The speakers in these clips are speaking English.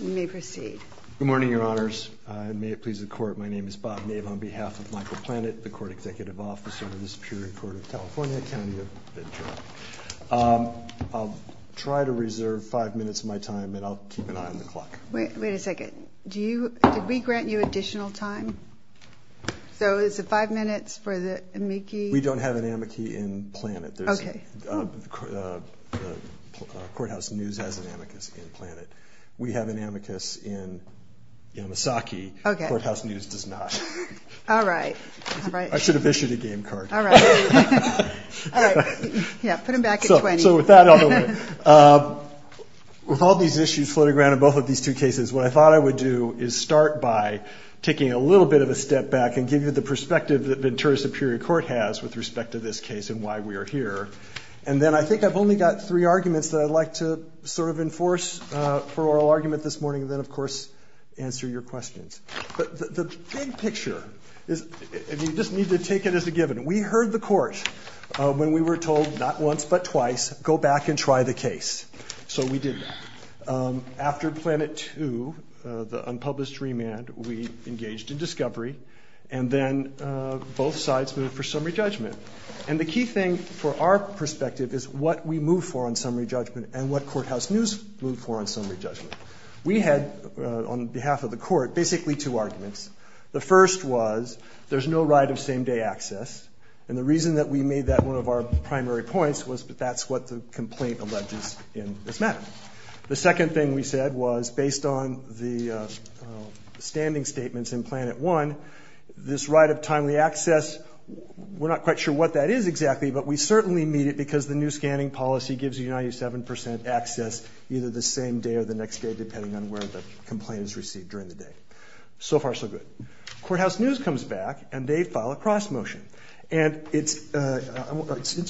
Good morning, Your Honors. May it please the Court, my name is Bob Maeve on behalf of Michael Planet, the Court Executive Officer of the Superior Court of California, county of Ventura. I'll try to reserve five minutes of my time and I'll keep an eye on the clock. Wait a second. Do we grant you additional time? So is it five minutes for the amici? We don't have an amici in Planet. Courthouse News has an amicus in Planet. We have an amicus in Misaki. Courthouse News does not. I should have issued a game card. All right. Yeah, put them back at 20. With all these issues floating around in both of these two cases, what I thought I would do is start by taking a little bit of a step back and give you the perspective that Ventura Superior Court has with respect to this case and why we are here. And then I think I've only got three arguments that I'd like to sort of enforce for our argument this morning and then, of course, answer your questions. But the big picture is, and you just need to take it as a given, we heard the court when we were told not once but twice, go back and try the case. So we did that. After Planet 2, the unpublished remand, we engaged in discovery and then both sides moved for summary judgment. And the key thing for our perspective is what we moved for on summary judgment and what Courthouse News moved for on summary judgment. We had, on behalf of the court, basically two arguments. The first was there's no right of same-day access, and the reason that we made that one of our primary points was that that's what the complaint alleged in this matter. The second thing we said was, based on the standing statements in Planet 1, this right of timely access, we're not quite sure what that is exactly, but we certainly need it because the new scanning policy gives you 97 percent access either the same day or the next day, depending on where the complaint is received during the day. So far, so good. Courthouse News comes back, and they file a cross-motion. And it's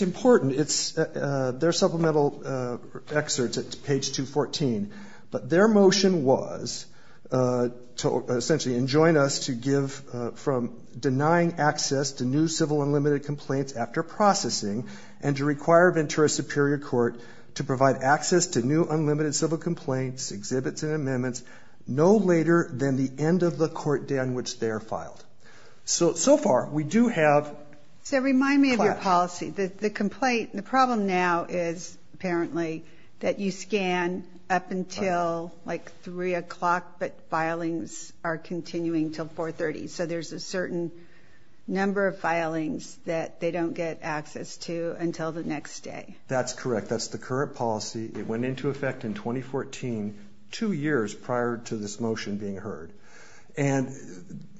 important. It's their supplemental excerpts. It's page 214. But their motion was to essentially enjoin us to give from denying access to new civil unlimited complaints after processing and to require Ventura Superior Court to provide access to new unlimited civil complaints, exhibits, and amendments no later than the end of the court day on which they are filed. So, so far, we do have... So remind me of your policy. The complaint, the problem now is, apparently, that you scan up until, like, 3 o'clock, but filings are continuing until 430. So there's a certain number of filings that they don't get access to until the next day. That's correct. That's the current policy. It went into effect in 2014, two years prior to this motion being heard. And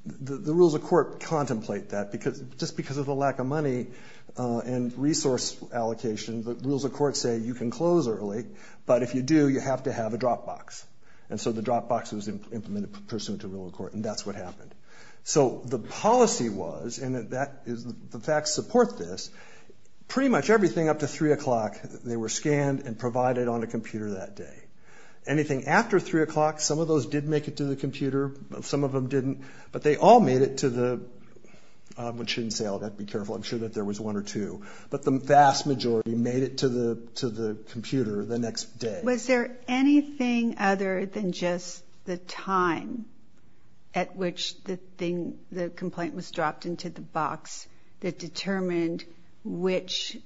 the rules of court contemplate that. Just because of the lack of money and resource allocation, the rules of court say you can close early, but if you do, you have to have a drop box. And so the drop box is implemented pursuant to the rule of court, and that's what happened. So the policy was, and the facts support this, pretty much everything up to 3 o'clock, they were scanned and provided on a computer that day. Anything after 3 o'clock, some of those did make it to the computer, some of them didn't, but they all made it to the... I shouldn't say all that. Be careful. I'm sure that there was one or two. But the vast majority made it to the computer the next day. Was there anything other than just the time at which the complaint was dropped into the box that determined which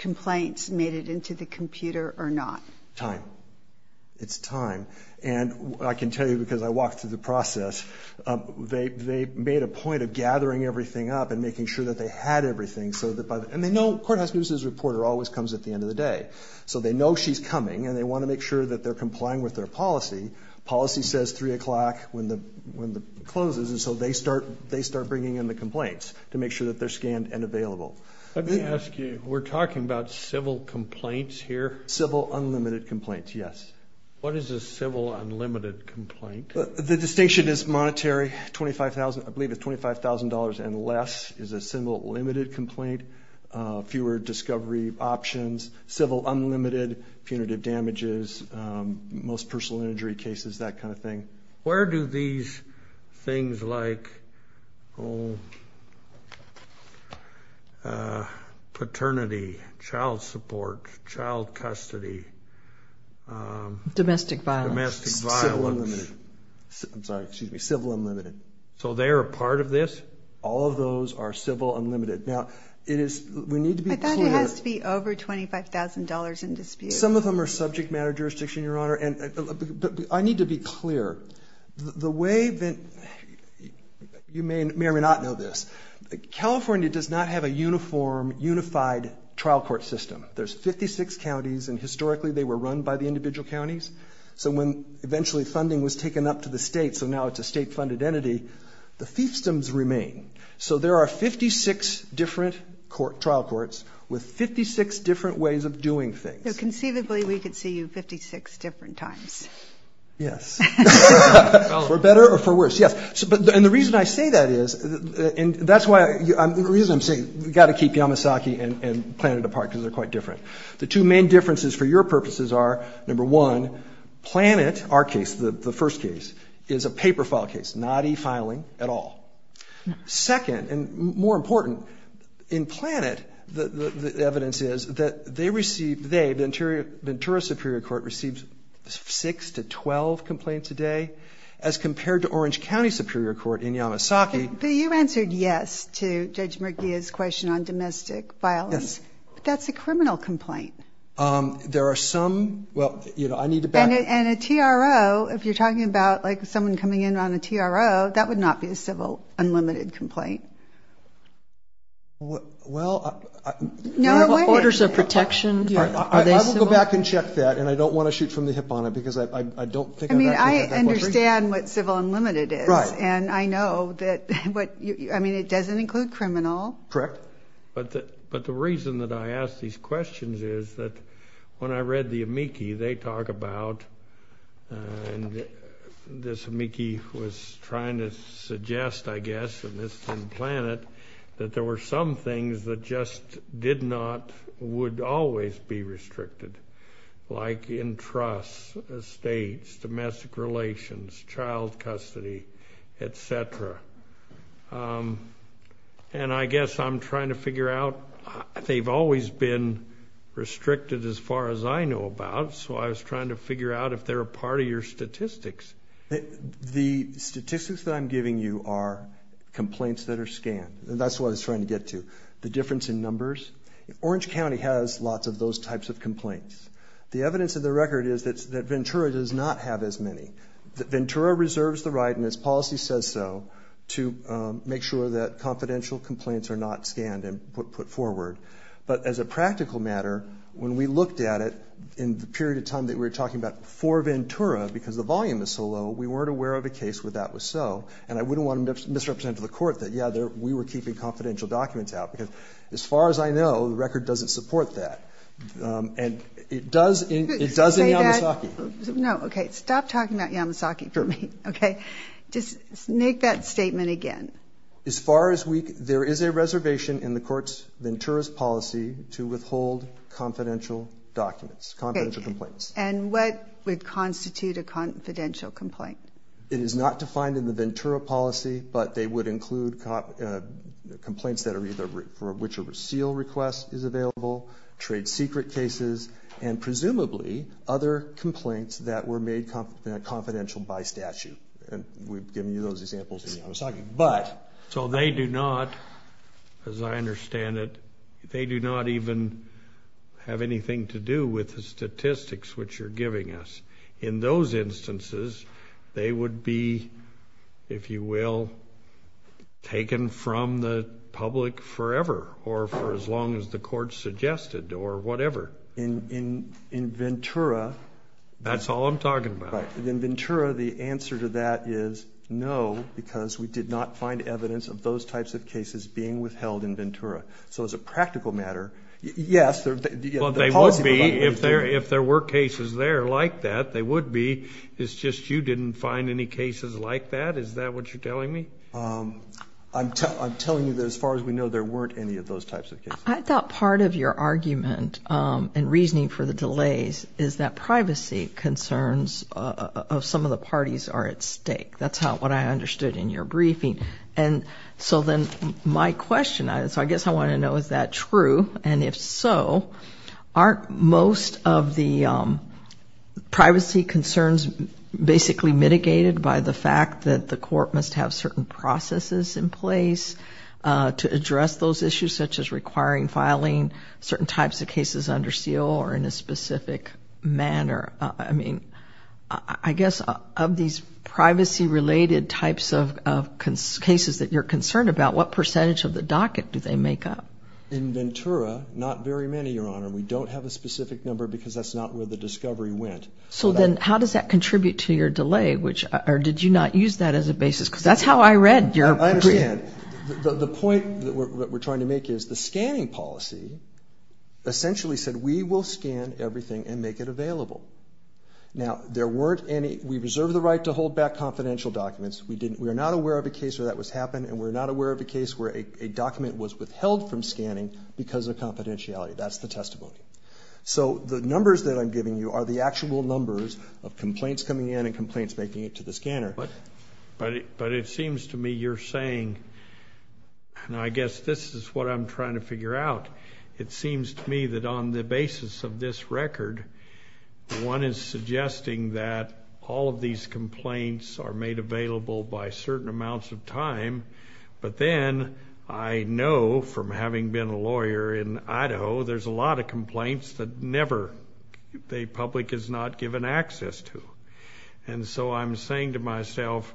complaints made it into the computer or not? Time. It's time. And I can tell you, because I walked through the process, they made a point of gathering everything up and making sure that they had everything. And they know a court-of-justice reporter always comes at the end of the day. So they know she's coming, and they want to make sure that they're complying with their policy. Policy says 3 o'clock when it closes, and so they start bringing in the complaints to make sure that they're scanned and available. Let me ask you, we're talking about civil complaints here? Civil unlimited complaints, yes. What is a civil unlimited complaint? The distinction is monetary. I believe it's $25,000 and less is a civil limited complaint. Fewer discovery options, civil unlimited, punitive damages, most personal injury cases, that kind of thing. Where do these things like paternity, child support, child custody. Domestic violence. Domestic violence. Civil unlimited. I'm sorry, excuse me. Civil unlimited. So they are part of this? All of those are civil unlimited. Now, we need to be clear. I thought it has to be over $25,000 in dispute. Some of them are subject matter jurisdiction, Your Honor. I need to be clear. The way that you may or may not know this, California does not have a uniform, unified trial court system. There's 56 counties, and historically they were run by the individual counties. So when eventually funding was taken up to the state, so now it's a state-funded entity, the systems remain. So there are 56 different trial courts with 56 different ways of doing things. So conceivably we could see you 56 different times. Yes. For better or for worse, yes. And the reason I say that is, and that's the reason I'm saying we've got to keep Yamasaki and Planet apart because they're quite different. The two main differences for your purposes are, number one, Planet, our case, the first case, is a paper file case, not e-filing at all. Second, and more important, in Planet, the evidence is that they received, they, the Ventura Superior Court, received 6 to 12 complaints a day, as compared to Orange County Superior Court in Yamasaki. So you answered yes to Judge Murguia's question on domestic violence. Yes. But that's a criminal complaint. There are some, well, you know, I need to back up. And a TRO, if you're talking about, like, someone coming in on a TRO, that would not be a civil unlimited complaint. Well, I... No way. Orders of protection... I will go back and check that, and I don't want to shoot from the hip on it because I don't think... I mean, I understand what civil unlimited is. Right. And I know that, but, I mean, it doesn't include criminal. Correct. But the reason that I ask these questions is that when I read the amici, they talk about, and this amici was trying to suggest, I guess, in Planet, that there were some things that just did not, would always be restricted, like in trusts, estates, domestic relations, child custody, etc. And I guess I'm trying to figure out, they've always been restricted as far as I know about, so I was trying to figure out if they're a part of your statistics. The statistics that I'm giving you are complaints that are scanned. And that's what I was trying to get to, the difference in numbers. Orange County has lots of those types of complaints. The evidence of the record is that Ventura does not have as many. Ventura reserves the right, and its policy says so, to make sure that confidential complaints are not scanned and put forward. But as a practical matter, when we looked at it in the period of time that we were talking about for Ventura, because the volume is so low, we weren't aware of a case where that was so. And I wouldn't want to misrepresent to the court that, yeah, we were keeping confidential documents out. Because as far as I know, the record doesn't support that. And it does in Yamataki. No, okay, stop talking about Yamataki for me, okay? Just make that statement again. As far as we can, there is a reservation in the court's Ventura's policy to withhold confidential documents, confidential complaints. And what would constitute a confidential complaint? It is not defined in the Ventura policy, but they would include complaints for which a seal request is available, trade secret cases, and presumably other complaints that were made confidential by statute. We've given you those examples in Yamataki. But, so they do not, as I understand it, they do not even have anything to do with the statistics which you're giving us. In those instances, they would be, if you will, taken from the public forever, or for as long as the court suggested, or whatever. In Ventura. That's all I'm talking about. In Ventura, the answer to that is no, because we did not find evidence of those types of cases being withheld in Ventura. So as a practical matter, yes. Well, they would be, if there were cases there like that, they would be. It's just you didn't find any cases like that? Is that what you're telling me? I'm telling you that as far as we know, there weren't any of those types of cases. I thought part of your argument in reasoning for the delays is that privacy concerns of some of the parties are at stake. That's what I understood in your briefing. So then my question, I guess I want to know, is that true? And if so, aren't most of the privacy concerns basically mitigated by the fact that the court must have certain processes in place to address those issues, such as requiring filing certain types of cases under seal or in a specific manner? I guess of these privacy-related types of cases that you're concerned about, what percentage of the docket do they make up? In Ventura, not very many, Your Honor. We don't have a specific number because that's not where the discovery went. So then how does that contribute to your delay, or did you not use that as a basis? Because that's how I read your opinion. The point that we're trying to make is the scanning policy essentially said we will scan everything and make it available. Now, there weren't any—we reserved the right to hold back confidential documents. We're not aware of a case where that was happening, and we're not aware of a case where a document was withheld from scanning because of confidentiality. That's the testimony. So the numbers that I'm giving you are the actual numbers of complaints coming in and complaints making it to the scanner. But it seems to me you're saying—and I guess this is what I'm trying to figure out— it seems to me that on the basis of this record, one is suggesting that all of these complaints are made available by certain amounts of time, but then I know from having been a lawyer in Idaho, there's a lot of complaints that never the public is not given access to. And so I'm saying to myself,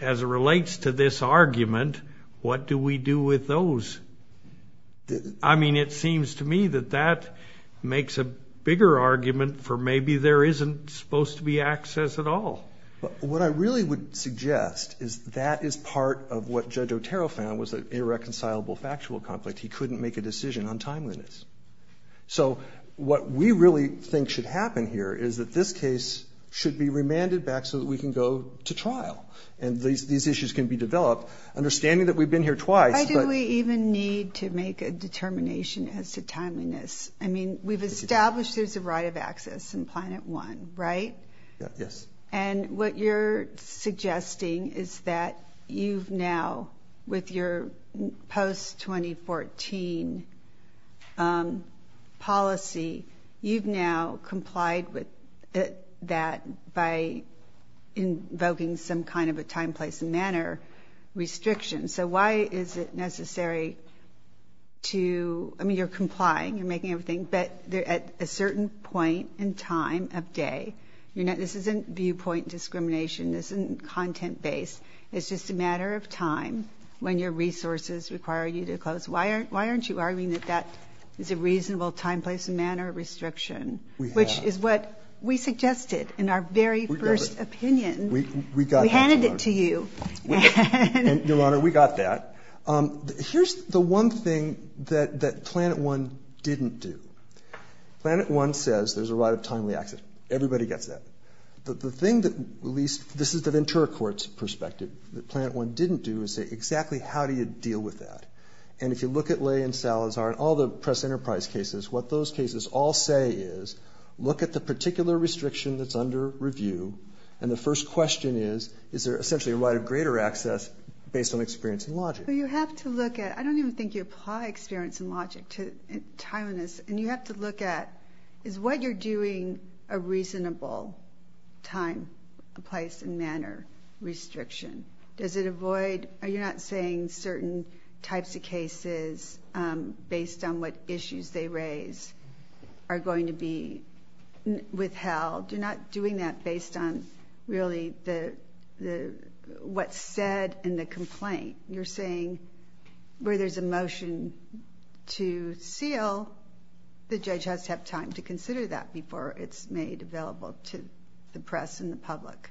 as it relates to this argument, what do we do with those? I mean, it seems to me that that makes a bigger argument for maybe there isn't supposed to be access at all. What I really would suggest is that is part of what Judge Otero found was an irreconcilable factual conflict. He couldn't make a decision on timeliness. So what we really think should happen here is that this case should be remanded back so that we can go to trial and these issues can be developed, understanding that we've been here twice. I think we even need to make a determination as to timeliness. I mean, we've established there's a right of access in Planet One, right? Yes. And what you're suggesting is that you've now, with your post-2014 policy, you've now complied with that by invoking some kind of a time, place, and manner restriction. So why is it necessary to – I mean, you're complying, you're making everything, but they're at a certain point in time of day. This isn't viewpoint discrimination. This isn't content-based. It's just a matter of time when your resources require you to close. Why aren't you arguing that that's a reasonable time, place, and manner restriction, which is what we suggested in our very first opinion. We got that, Your Honor. We handed it to you. Your Honor, we got that. Here's the one thing that Planet One didn't do. Planet One says there's a right of timely access. Everybody gets that. But the thing that at least – this is the Ventura Court's perspective that Planet One didn't do is say exactly how do you deal with that. And if you look at Ley and Salazar and all the press enterprise cases, what those cases all say is look at the particular restriction that's under review, and the first question is is there essentially a right of greater access based on experience and logic. So you have to look at – I don't even think you apply experience and logic to timeliness, and you have to look at is what you're doing a reasonable time, place, and manner restriction. Does it avoid – are you not saying certain types of cases, based on what issues they raise, are going to be withheld? You're not doing that based on really what's said in the complaint. You're saying where there's a motion to seal, the judge has to have time to consider that before it's made available to the press and the public.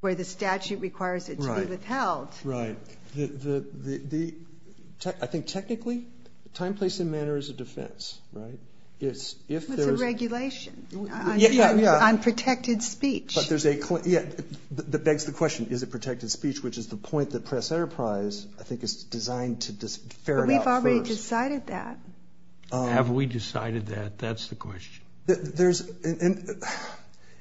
Where the statute requires it to be withheld. Right. I think technically, time, place, and manner is a defense, right? It's a regulation on protected speech. Yeah, that begs the question. Is it protected speech, which is the point that press enterprise, I think, is designed to dis- We've already decided that. Have we decided that? That's the question. There's –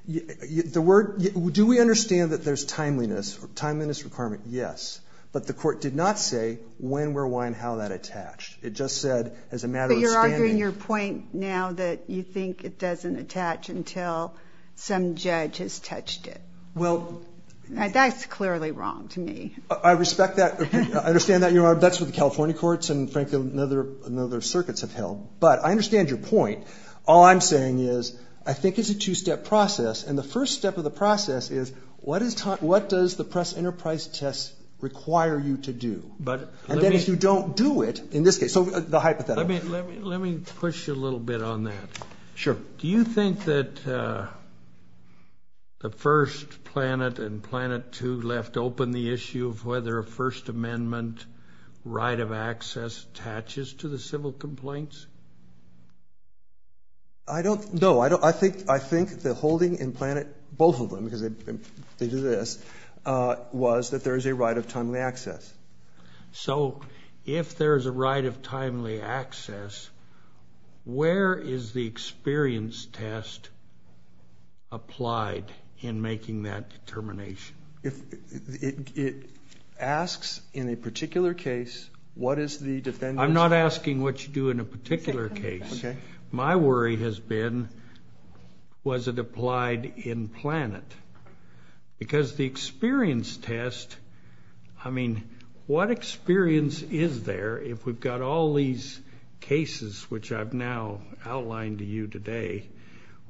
do we understand that there's timeliness? Timeliness requirement, yes. But the court did not say when, where, why, and how that attached. It just said as a matter of standing. You're arguing your point now that you think it doesn't attach until some judge has touched it. Well – That's clearly wrong to me. I respect that. I understand that you're on a bench with the California courts, and, frankly, no other circuits have held. But I understand your point. All I'm saying is, I think it's a two-step process, and the first step of the process is, what does the press enterprise test require you to do? And then if you don't do it, in this case – so the hypothetical. Let me push you a little bit on that. Sure. Do you think that the First Planet and Planet 2 left open the issue of whether a First Amendment right of access attaches to the civil complaints? I don't – no. I think the holding in Planet – both of them, because they do this – was that there is a right of timely access. So if there's a right of timely access, where is the experience test applied in making that determination? It asks, in a particular case, what is the defendant – I'm not asking what you do in a particular case. Okay. My worry has been, was it applied in Planet? Because the experience test – I mean, what experience is there, if we've got all these cases, which I've now outlined to you today,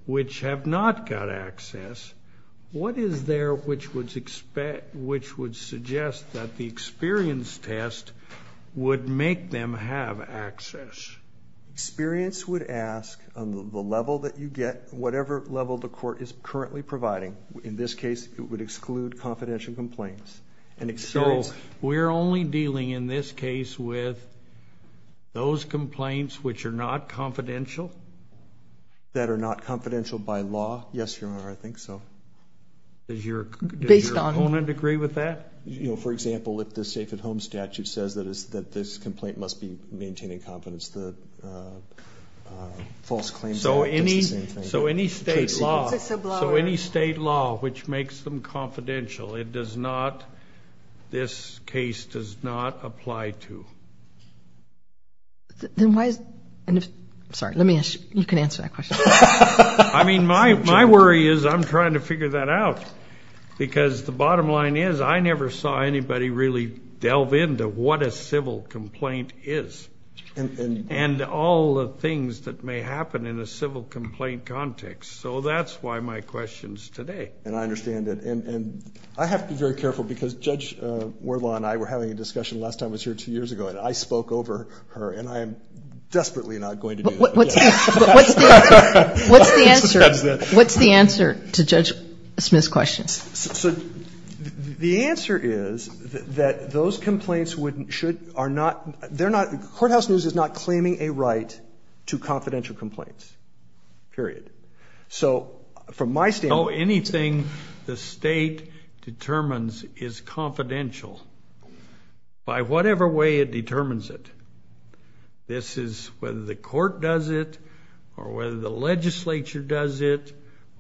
which have not got access, what is there which would suggest that the experience test would make them have access? Experience would ask, on the level that you get, whatever level the court is currently providing. In this case, it would exclude confidential complaints. So we're only dealing, in this case, with those complaints which are not confidential? That are not confidential by law? Yes, Your Honor, I think so. Does your opponent agree with that? You know, for example, if the Safe at Home statute says that this complaint must be maintained in confidence, the false claim – So any state law which makes them confidential, it does not – this case does not apply to. Then why – sorry, let me – you can answer that question. I mean, my worry is I'm trying to figure that out. Because the bottom line is I never saw anybody really delve into what a civil complaint is. And all the things that may happen in a civil complaint context. So that's why my question's today. And I understand that. And I have to be very careful, because Judge Wardlaw and I were having a discussion last time I was here two years ago, and I spoke over her, and I am desperately not going to do that. What's the answer to Judge Smith's question? So the answer is that those complaints are not – Courthouse News is not claiming a right to confidential complaints. Period. So from my standpoint – Oh, anything the state determines is confidential. By whatever way it determines it. This is – whether the court does it, or whether the legislature does it,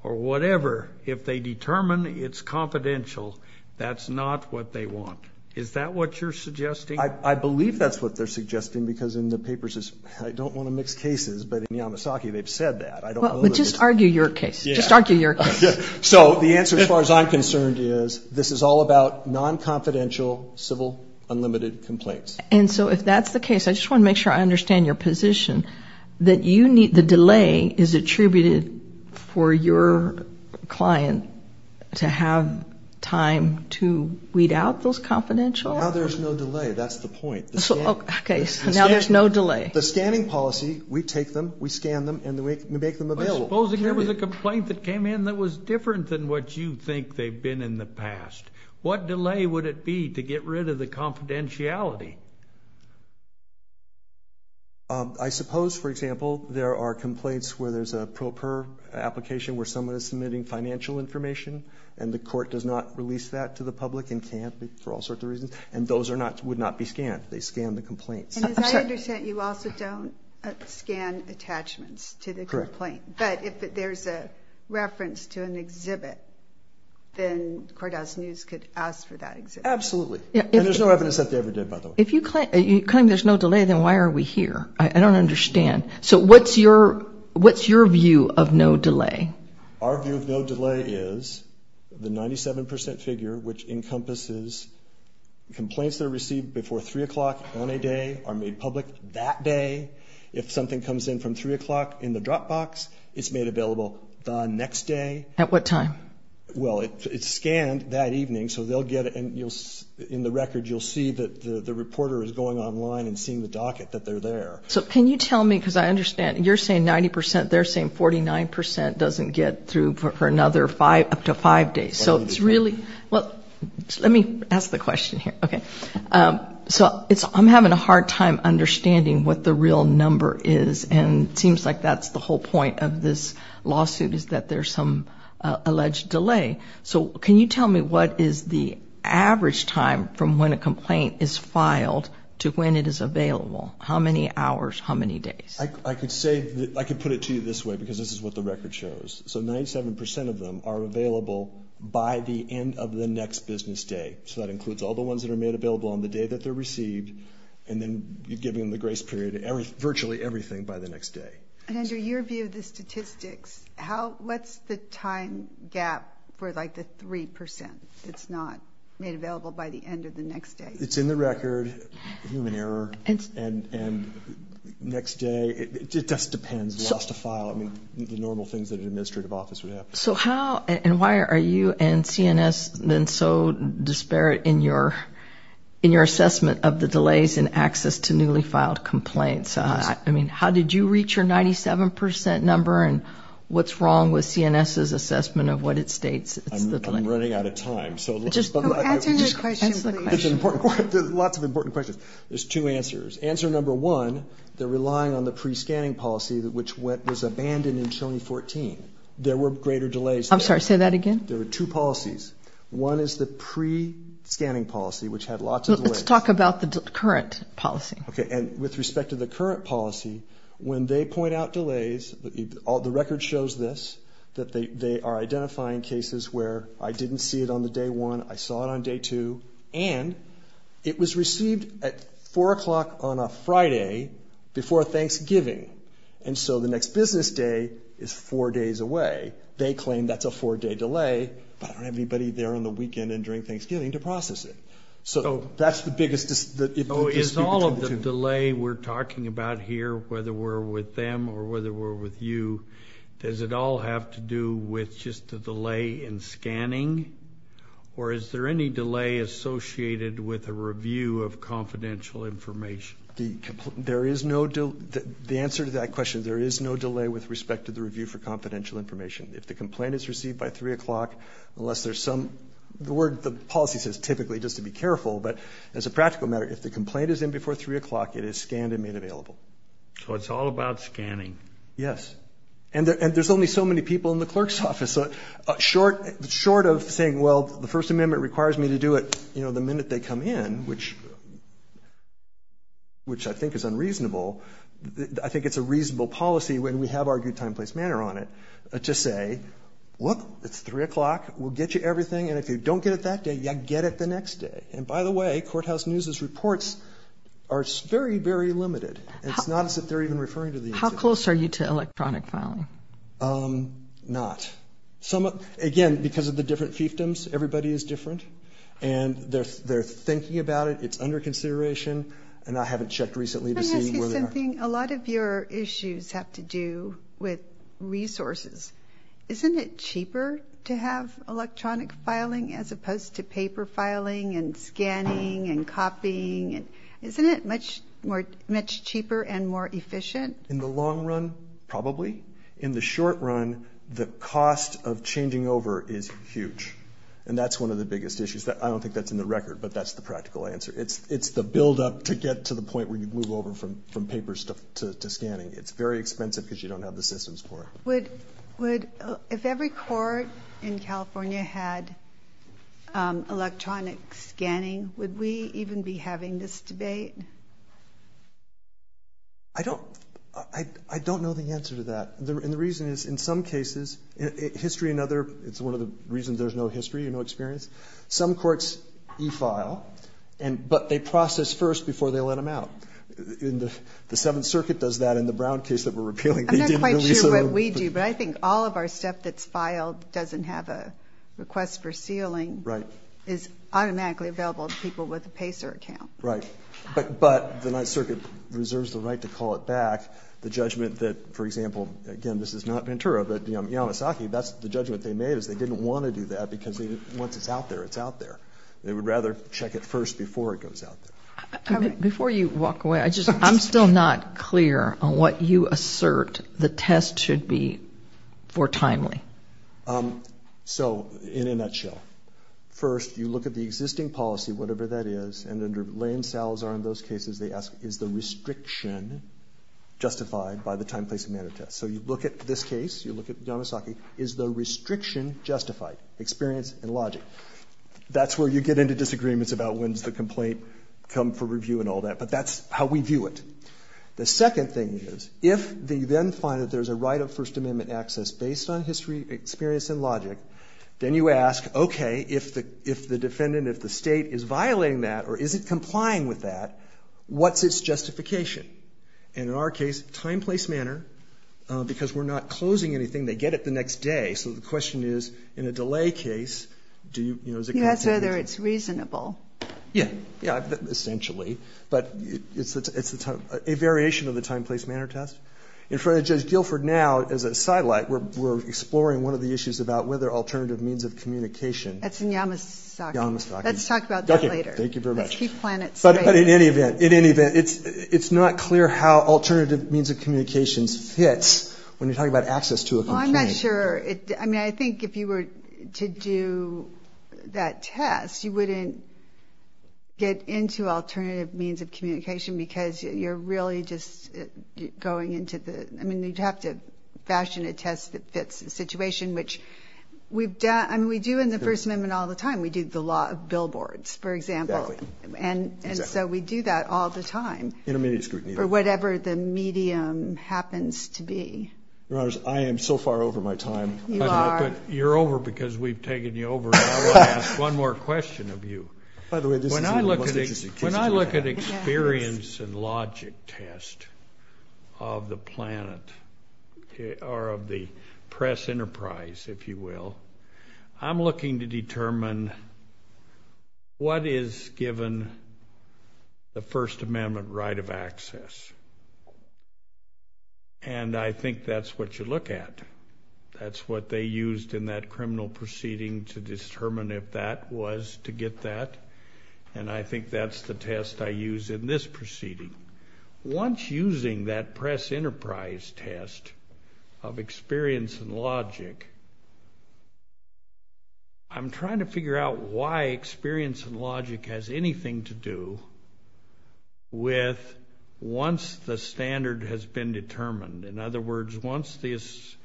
or whatever, if they determine it's confidential, that's not what they want. Is that what you're suggesting? I believe that's what they're suggesting, because in the papers it says, I don't want to mix cases, but in Yamasaki they've said that. I don't believe it. Well, just argue your case. Just argue your case. So the answer, as far as I'm concerned, is this is all about non-confidential civil unlimited complaints. And so if that's the case, I just want to make sure I understand your position, that the delay is attributed for your client to have time to weed out those confidential – Now there's no delay. That's the point. Okay, so now there's no delay. The scanning policy, we take them, we scan them, and we make them available. But supposing there was a complaint that came in that was different than what you think they've been in the past. What delay would it be to get rid of the confidentiality? I suppose, for example, there are complaints where there's a pro per application where someone is submitting financial information, and the court does not release that to the public and can't for all sorts of reasons, and those would not be scanned. They scan the complaint. And as I understand, you also don't scan attachments to the complaint. Correct. But if there's a reference to an exhibit, then Cordell's News could ask for that exhibit. Absolutely. And there's no evidence that they ever did, by the way. If you claim there's no delay, then why are we here? I don't understand. So what's your view of no delay? Our view of no delay is the 97 percent figure, which encompasses complaints that are received before 3 o'clock on a day are made public that day. If something comes in from 3 o'clock in the drop box, it's made available the next day. At what time? Well, it's scanned that evening, so they'll get it, and in the record, you'll see that the reporter is going online and seeing the docket that they're there. So can you tell me, because I understand, you're saying 90 percent. They're saying 49 percent doesn't get through for another five days. I don't understand. Let me ask the question here. Okay. I'm having a hard time understanding what the real number is, and it seems like that's the whole point of this lawsuit is that there's some alleged delay. So can you tell me what is the average time from when a complaint is filed to when it is available? How many hours, how many days? I could put it to you this way, because this is what the record shows. So 97 percent of them are available by the end of the next business day. So that includes all the ones that are made available on the day that they're received and then giving them the grace period, virtually everything by the next day. And under your view of the statistics, what's the time gap for, like, the 3 percent that's not made available by the end of the next day? It's in the record, human error, and next day. It just depends. You lost a file. I mean, the normal things that an administrative office would have. So how and why are you and CNS been so disparate in your assessment of the delays in access to newly filed complaints? I mean, how did you reach your 97 percent number, and what's wrong with CNS's assessment of what it states? I'm running out of time. Answer the question. There's lots of important questions. There's two answers. Answer number one, they're relying on the pre-scanning policy, which was abandoned in 2014. There were greater delays. I'm sorry, say that again. There were two policies. One is the pre-scanning policy, which had lots of delays. Let's talk about the current policy. Okay, and with respect to the current policy, when they point out delays, the record shows this, that they are identifying cases where I didn't see it on the day one, I saw it on day two, and it was received at 4 o'clock on a Friday before Thanksgiving, and so the next business day is four days away. They claim that's a four-day delay, but I don't have anybody there on the weekend and during Thanksgiving to process it. So that's the biggest difference. So is all of the delay we're talking about here, whether we're with them or whether we're with you, does it all have to do with just the delay in scanning, or is there any delay associated with a review of confidential information? The answer to that question, there is no delay with respect to the review for confidential information. If the complaint is received by 3 o'clock, unless there's some – the policy says typically just to be careful, but as a practical matter, if the complaint is in before 3 o'clock, it is scanned and made available. So it's all about scanning. Yes, and there's only so many people in the clerk's office. Short of saying, well, the First Amendment requires me to do it, you know, the minute they come in, which I think is unreasonable, I think it's a reasonable policy when we have our due time and place manner on it, to say, well, it's 3 o'clock, we'll get you everything, and if you don't get it that day, get it the next day. And by the way, Courthouse News's reports are very, very limited. It's not as if they're even referring to the individual. How close are you to electronic filing? Not. Again, because of the different fiefdoms, everybody is different, and they're thinking about it, it's under consideration, and I haven't checked recently to see where they are. A lot of your issues have to do with resources. Isn't it cheaper to have electronic filing as opposed to paper filing and scanning and copying? Isn't it much cheaper and more efficient? In the long run, probably. In the short run, the cost of changing over is huge, and that's one of the biggest issues. I don't think that's in the record, but that's the practical answer. It's the buildup to get to the point where you move over from papers to scanning. It's very expensive because you don't have the systems for it. If every court in California had electronic scanning, would we even be having this debate? I don't know the answer to that, and the reason is, in some cases, it's one of the reasons there's no history, no experience. Some courts defile, but they process first before they let them out. The Seventh Circuit does that in the Brown case that we're appealing. I'm not quite sure what we do, but I think all of our stuff that's filed doesn't have a request for sealing. It's automatically available to people with a PACER account. Right, but the Ninth Circuit reserves the right to call it back, the judgment that, for example, again, this is not Ventura, but Yamasaki, that's the judgment they made is they didn't want to do that because once it's out there, it's out there. They would rather check it first before it goes out there. Before you walk away, I'm still not clear on what you assert the test should be for timely. So, in a nutshell, first, you look at the existing policy, whatever that is, and then the lame sows are in those cases. They ask, is the restriction justified by the time, place, and manner test? So you look at this case, you look at Yamasaki, is the restriction justified, experience, and logic? That's where you get into disagreements about when's the complaint come for review and all that, but that's how we view it. The second thing is, if they then find that there's a right of First Amendment access based on history, experience, and logic, then you ask, okay, if the defendant, if the state is violating that or isn't complying with that, what's its justification? And in our case, time, place, manner, because we're not closing anything, they get it the next day. So the question is, in a delay case, do you, you know, is it contended? You ask whether it's reasonable. Yeah, yeah, essentially. But it's a variation of the time, place, manner test. In front of Judge Guilford now, as a sidelight, we're exploring one of the issues about whether alternative means of communication. That's in Yamasaki. Yamasaki. Let's talk about that later. Thank you very much. But in any event, it's not clear how alternative means of communication fits when you're talking about access to a complaint. Well, I'm not sure. I mean, I think if you were to do that test, you wouldn't get into alternative means of communication because you're really just going into the, I mean, you'd have to fashion a test that fits the situation, which we've done. I mean, we do in the First Amendment all the time. We do the law of billboards, for example. Exactly. And so we do that all the time. Intermediate scrutiny. For whatever the medium happens to be. Rose, I am so far over my time. You are. You're over because we've taken you over, but I want to ask one more question of you. When I look at experience and logic test of the planet or of the press enterprise, if you will, I'm looking to determine what is given the First Amendment right of access. And I think that's what you look at. That's what they used in that criminal proceeding to determine if that was to get that, and I think that's the test I use in this proceeding. Once using that press enterprise test of experience and logic, I'm trying to figure out why experience and logic has anything to do with once the standard has been determined. In other words, once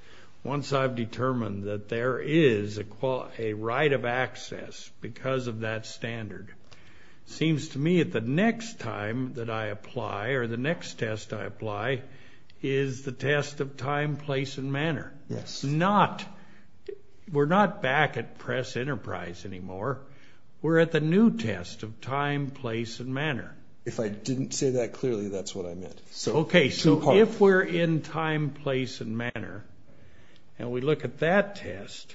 I've determined that there is a right of access because of that standard, it seems to me that the next time that I apply or the next test I apply is the test of time, place, and manner. We're not back at press enterprise anymore. We're at the new test of time, place, and manner. If I didn't say that clearly, that's what I meant. Okay, so if we're in time, place, and manner, and we look at that test,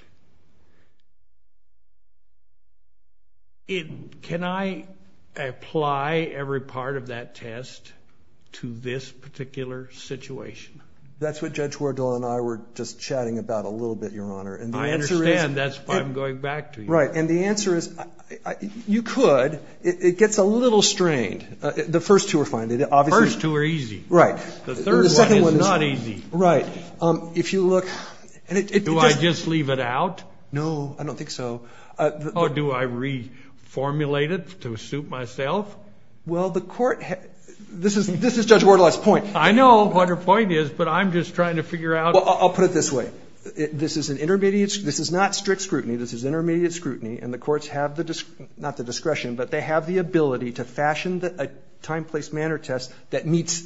can I apply every part of that test to this particular situation? That's what Judge Wardle and I were just chatting about a little bit, Your Honor. I understand. That's why I'm going back to you. Right, and the answer is you could. It gets a little strange. The first two are fine. The first two are easy. Right. The third one is not easy. Right. If you look... Do I just leave it out? No, I don't think so. Or do I reformulate it to suit myself? Well, the court... This is Judge Wardle's point. I know what her point is, but I'm just trying to figure out... I'll put it this way. This is an intermediate... This is not strict scrutiny. This is intermediate scrutiny, and the courts have the... Not the discretion, but they have the ability to fashion a time, place, manner test that meets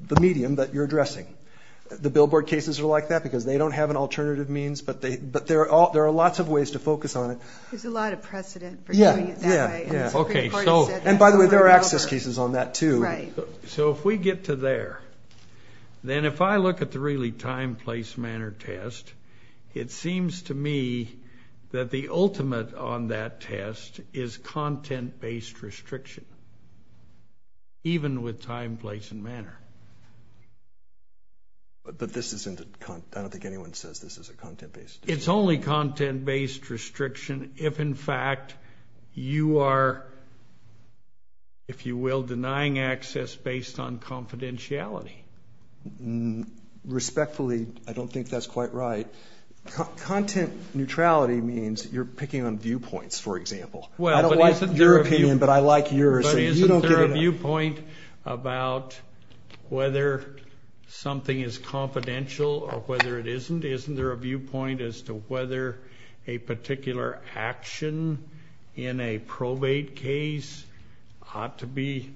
the medium that you're addressing. The billboard cases are like that because they don't have an alternative means, but there are lots of ways to focus on it. There's a lot of precedent for doing it that way. Okay, so... And by the way, there are access cases on that, too. Right. So if we get to there, then if I look at the really time, place, manner test, it seems to me that the ultimate on that test is content-based restriction, even with time, place, and manner. But this isn't... I don't think anyone says this is a content-based... It's only content-based restriction if, in fact, you are, if you will, denying access based on confidentiality. Respectfully, I don't think that's quite right. Content neutrality means you're picking on viewpoints, for example. I don't like your opinion, but I like yours. But isn't there a viewpoint about whether something is confidential or whether it isn't? Isn't there a viewpoint as to whether a particular action in a probate case ought to be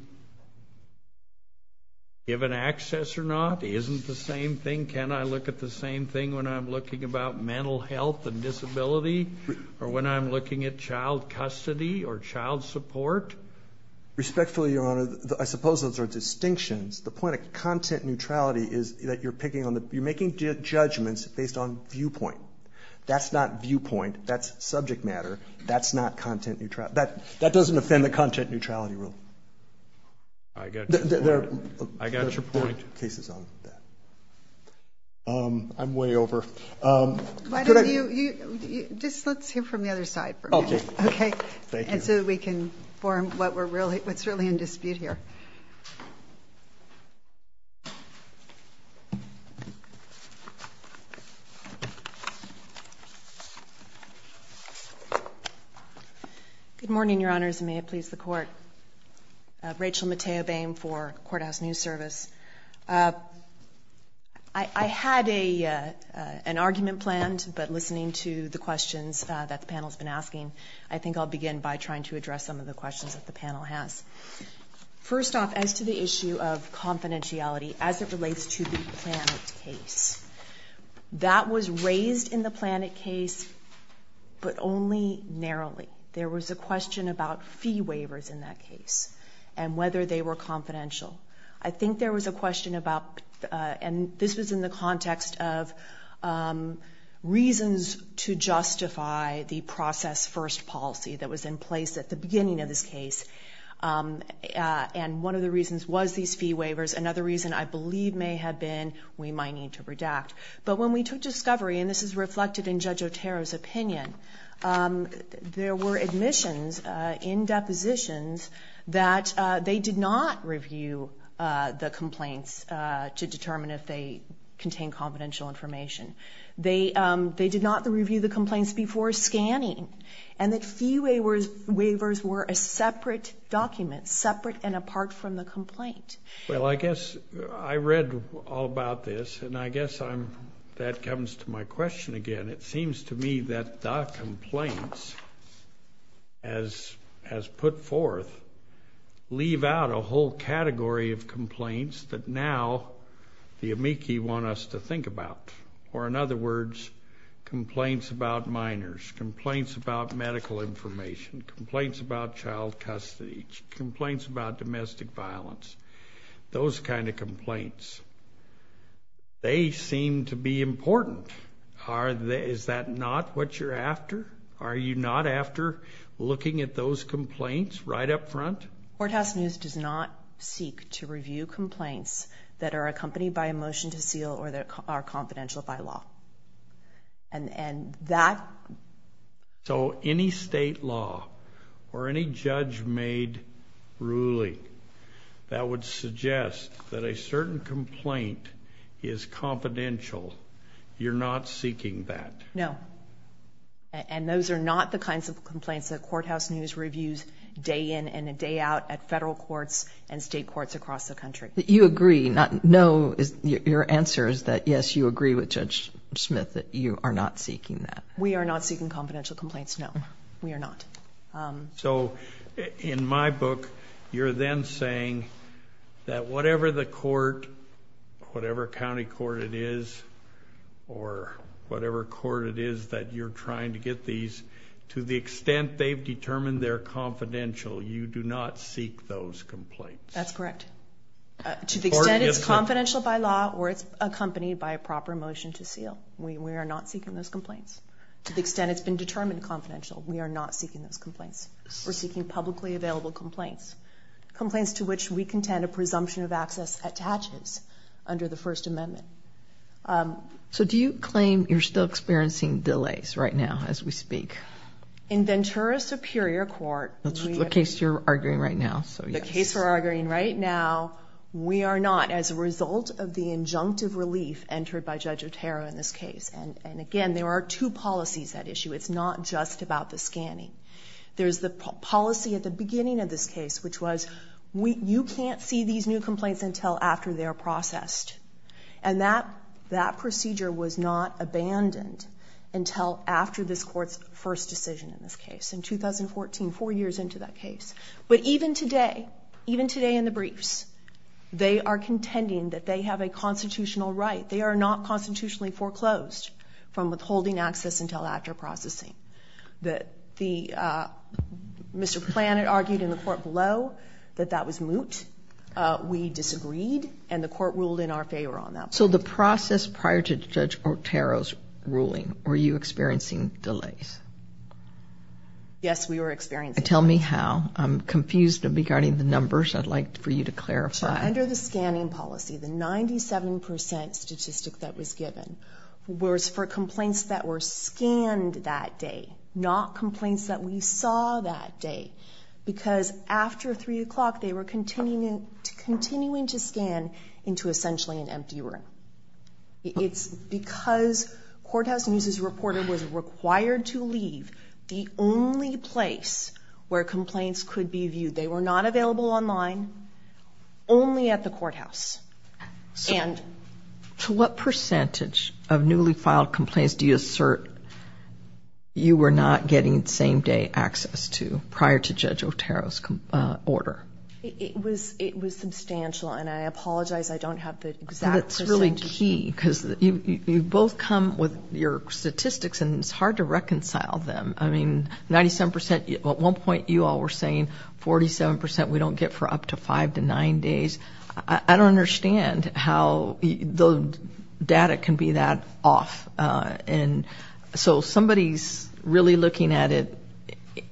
given access or not? Isn't the same thing? Can I look at the same thing when I'm looking about mental health and disability or when I'm looking at child custody or child support? Respectfully, Your Honor, I suppose those are distinctions. The point of content neutrality is that you're picking on the... You're making judgments based on viewpoint. That's not viewpoint. That's subject matter. That's not content neutrality. That doesn't offend the content neutrality rule. I got your point. I'm way over. Why don't you... Just folks here from the other side. Okay. Okay? Thank you. Let's see if we can form what's really in dispute here. Good morning, Your Honors, and may it please the Court. Rachel Matea-Boehm for Courthouse News Service. I had an argument planned, but listening to the questions that the panel's been asking, I think I'll begin by trying to address some of the questions that the panel has. First off, as to the issue of confidentiality as it relates to the Planned Parenthood case, that was raised in the Planned Parenthood case, but only narrowly. There was a question about fee waivers in that case and whether they were confidential. I think there was a question about... And this is in the context of reasons to justify the process-first policy that was in place at the beginning of this case. And one of the reasons was these fee waivers. Another reason, I believe, may have been we might need to redact. But when we took discovery, and this is reflected in Judge Otero's opinion, there were admissions in depositions that they did not review the complaints to determine if they contained confidential information. They did not review the complaints before scanning. And the fee waivers were a separate document, separate and apart from the complaint. Well, I guess I read all about this, and I guess that comes to my question again. It seems to me that the complaints, as put forth, leave out a whole category of complaints that now the amici want us to think about. Or in other words, complaints about minors, complaints about medical information, complaints about child custody, complaints about domestic violence, those kind of complaints. They seem to be important. Is that not what you're after? Are you not after looking at those complaints right up front? Courthouse News does not seek to review complaints that are accompanied by a motion to seal or are confidential by law. And that... So any state law or any judge-made ruling that would suggest that a certain complaint is confidential, you're not seeking that? No. And those are not the kinds of complaints that Courthouse News reviews day in and day out at federal courts and state courts across the country. You agree. No, your answer is that yes, you agree with Judge Smith that you are not seeking that. We are not seeking confidential complaints, no. We are not. So in my book, you're then saying that whatever the court, whatever county court it is, or whatever court it is that you're trying to get these, to the extent they've determined they're confidential, you do not seek those complaints? That's correct. To the extent it's confidential by law or it's accompanied by a proper motion to seal, we are not seeking those complaints. To the extent it's been determined confidential, we are not seeking those complaints. We're seeking publicly available complaints, complaints to which we contend a presumption of access attaches under the First Amendment. So do you claim you're still experiencing delays in this case right now as we speak? In Ventura Superior Court... What case you're arguing right now? The case we're arguing right now, we are not as a result of the injunctive relief entered by Judge Otero in this case. And again, there are two policies at issue. It's not just about the scanning. There's the policy at the beginning of this case, which was you can't see these new complaints until after they're processed. And that procedure was not abandoned until after this court's first decision in this case. In 2014, four years into that case. But even today, even today in the briefs, they are contending that they have a constitutional right. They are not constitutionally foreclosed from withholding access until after processing. Mr. Flanagan argued in the court below that that was moot. We disagreed, and the court ruled in our favor on that. So the process prior to Judge Otero's ruling, were you experiencing delays? Yes, we were experiencing delays. Tell me how. I'm confused regarding the numbers. I'd like for you to clarify. Under the scanning policy, the 97% statistic that was given was for complaints that were scanned that day, not complaints that we saw that day. Because after 3 o'clock, they were continuing to scan into essentially an empty room. It's because Courthouse News reported was required to leave the only place where complaints could be viewed. They were not available online, only at the courthouse. And to what percentage of newly filed complaints do you assert you were not getting same-day access to prior to Judge Otero's order? It was substantial, and I apologize, I don't have the exact percentage. That's really key, because you both come with your statistics, and it's hard to reconcile them. I mean, at one point, you all were saying 47% we don't get for up to 5 to 9 days. I don't understand how the data can be that off. So somebody's really looking at it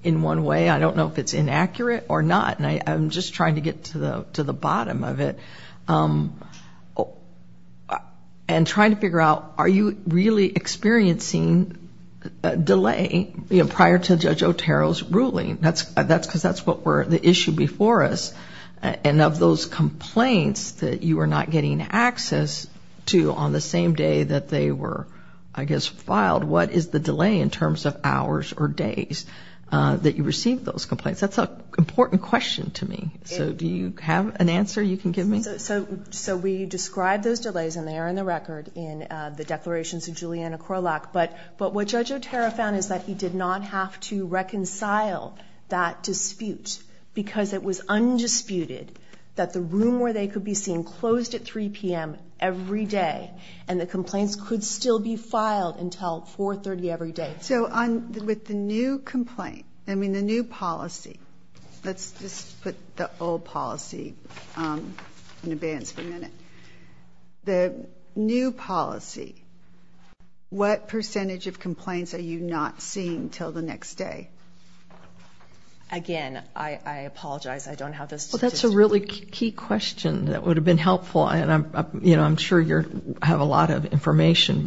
in one way. I don't know if it's inaccurate or not, and I'm just trying to get to the bottom of it. And trying to figure out, are you really experiencing a delay prior to Judge Otero's ruling? Because that's the issue before us. And of those complaints that you were not getting access to on the same day that they were, I guess, filed, what is the delay in terms of hours or days that you received those complaints? That's an important question to me. So do you have an answer you can give me? So we described those delays, and they are in the record, in the declarations of Julianna Corlock. But what Judge Otero found is that he did not have to reconcile that dispute, because it was undisputed that the room where they could be seen closed at 3 p.m. every day, and the complaints could still be filed until 4.30 every day. So with the new complaint, I mean the new policy, let's just put the old policy in advance for a minute. The new policy, what percentage of complaints are you not seeing until the next day? Again, I apologize, I don't have the statistics. Well, that's a really key question that would have been helpful, and I'm sure you have a lot of information.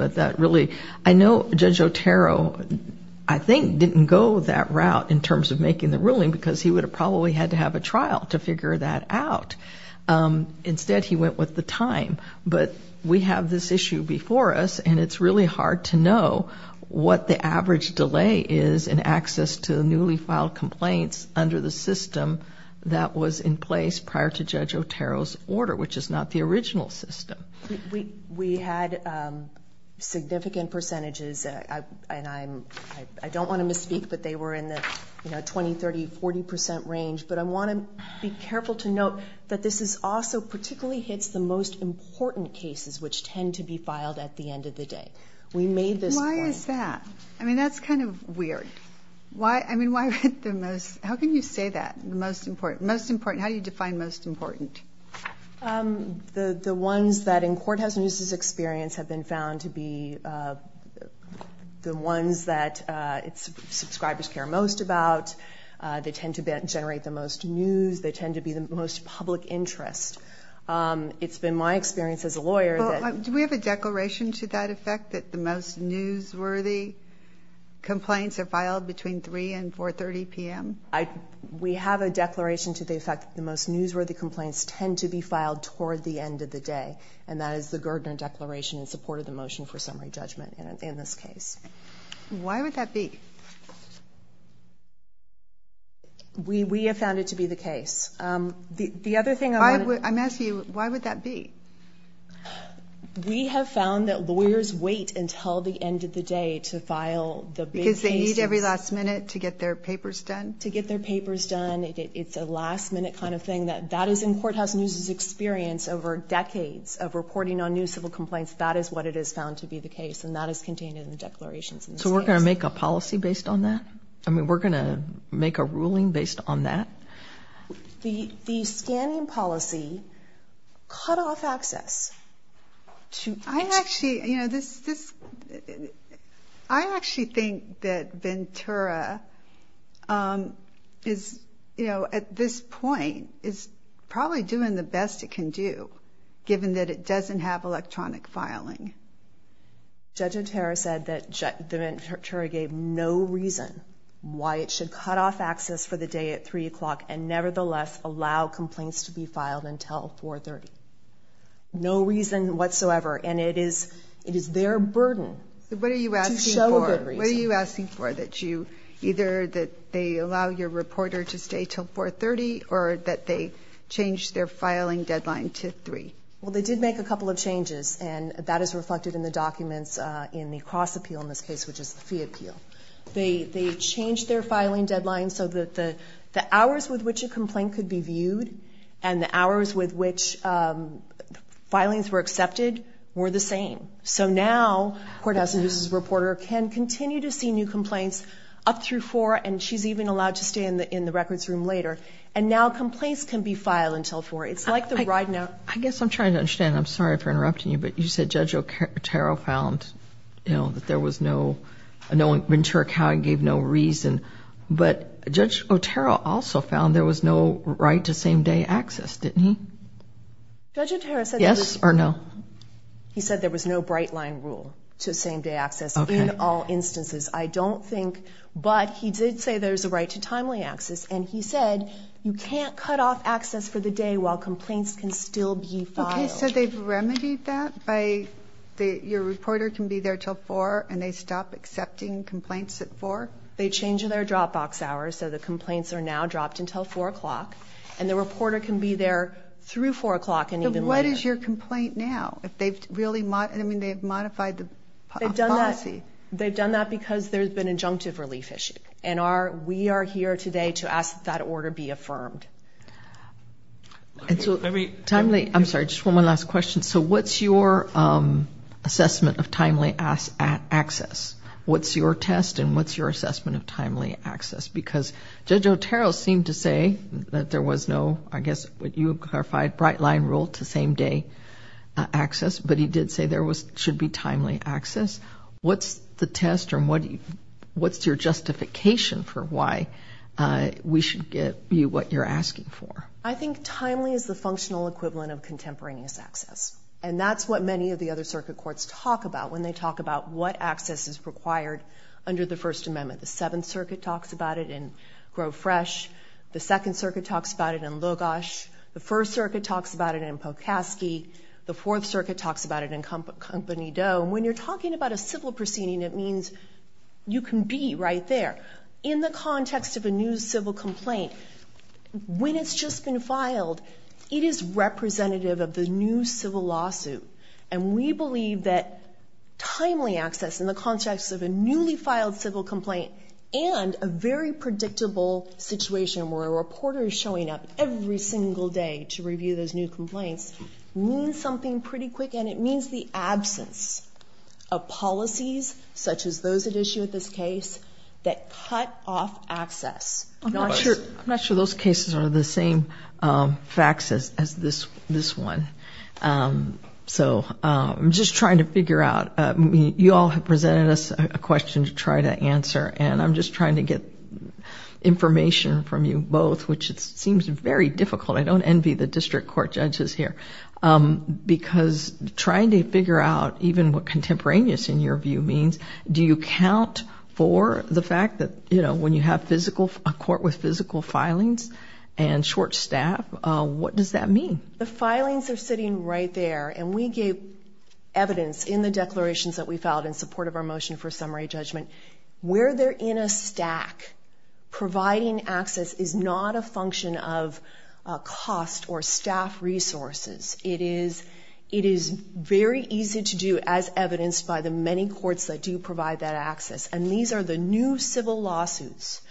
I know Judge Otero, I think, didn't go that route in terms of making the ruling, because he would have probably had to have a trial to figure that out. Instead, he went with the time. But we have this issue before us, and it's really hard to know what the average delay is in access to the newly filed complaints under the system that was in place prior to Judge Otero's order, which is not the original system. We had significant percentages, and I don't want to misspeak that they were in the 20%, 30%, 40% range, but I want to be careful to note that this also particularly hits the most important cases which tend to be filed at the end of the day. Why is that? I mean, that's kind of weird. How can you say that? Most important. How do you define most important? The ones that in courthouse news' experience have been found to be the ones that subscribers care most about. They tend to generate the most news. They tend to be the most public interest. It's been my experience as a lawyer that... Do we have a declaration to that effect that the most newsworthy complaints are filed between 3 and 4.30 p.m.? We have a declaration to the effect that the most newsworthy complaints tend to be filed toward the end of the day, and that is the Gerdner Declaration in support of the motion for summary judgment in this case. Why would that be? We have found it to be the case. I'm asking you, why would that be? We have found that lawyers wait until the end of the day to file... Because they need every last minute to get their papers done? To get their papers done. It's a last-minute kind of thing. That is in courthouse news' experience over decades of reporting on newsworthy complaints. That is what it is found to be the case, and that is contained in the declaration. So we're going to make a policy based on that? I mean, we're going to make a ruling based on that? The scanning policy cut off access. I actually think that Ventura is, at this point, is probably doing the best it can do, given that it doesn't have electronic filing. Judge Otero said that Ventura gave no reason why it should cut off access for the day at 3 o'clock and nevertheless allow complaints to be filed until 4.30. No reason whatsoever, and it is their burden. What are you asking for? What are you asking for, that you... Either that they allow your reporter to stay until 4.30, or that they change their filing deadline to 3? Well, they did make a couple of changes, and that is reflected in the documents in the cross-appeal in this case, which is the fee appeal. They changed their filing deadline so that the hours with which a complaint could be viewed and the hours with which filings were accepted were the same. So now, Cortez, as a reporter, can continue to see new complaints up through 4, and she's even allowed to stay in the records room later. And now complaints can be filed until 4. It's like the right now... I guess I'm trying to understand. I'm sorry for interrupting you, but you said Judge Otero found, you know, that there was no... Ventura County gave no reason, but Judge Otero also found there was no right-to-same-day access, didn't he? Judge Otero said... Yes or no? He said there was no bright-line rule to same-day access in all instances. I don't think... But he did say there's a right to timely access, and he said you can't cut off access for the day while complaints can still be filed. OK, so they've remedied that by... They changed their drop-box hours, so the complaints are now dropped until 4 o'clock, and the reporter can be there through 4 o'clock and even later. But what is your complaint now? If they've really... I mean, they've modified the policy. They've done that because there's been an injunctive relief issue, and we are here today to ask that that order be affirmed. And so every... I'm sorry, just one last question. So what's your assessment of timely access What's your test and what's your assessment of timely access? Because Judge Otero seemed to say that there was no, I guess, what you have clarified, bright-line rule to same-day access, but he did say there should be timely access. What's the test or what's your justification for why we should give you what you're asking for? I think timely is the functional equivalent of contemporaneous access, and that's what many of the other circuit courts talk about when they talk about what access is required under the First Amendment. The Seventh Circuit talks about it in Grove Fresh. The Second Circuit talks about it in Logosh. The First Circuit talks about it in Pocaskey. The Fourth Circuit talks about it in Company Doe. When you're talking about a civil proceeding, it means you can be right there. In the context of a new civil complaint, when it's just been filed, it is representative of the new civil lawsuit, and we believe that timely access, in the context of a newly-filed civil complaint and a very predictable situation where a reporter is showing up every single day to review those new complaints, means something pretty quick, and it means the absence of policies, such as those at issue with this case, that cut off access. I'm not sure those cases are the same facts as this one. So I'm just trying to figure out. You all have presented us a question to try to answer, and I'm just trying to get information from you both, which seems very difficult. I don't envy the district court judges here, because trying to figure out even what contemporaneous in your view means, do you count for the fact that when you have a court with physical filings and short staff, what does that mean? The filings are sitting right there, and we gave evidence in the declarations that we filed in support of our motion for summary judgment. Where they're in a stack, providing access is not a function of cost or staff resources. It is very easy to do as evidenced by the many courts that do provide that access, and these are the new civil lawsuits.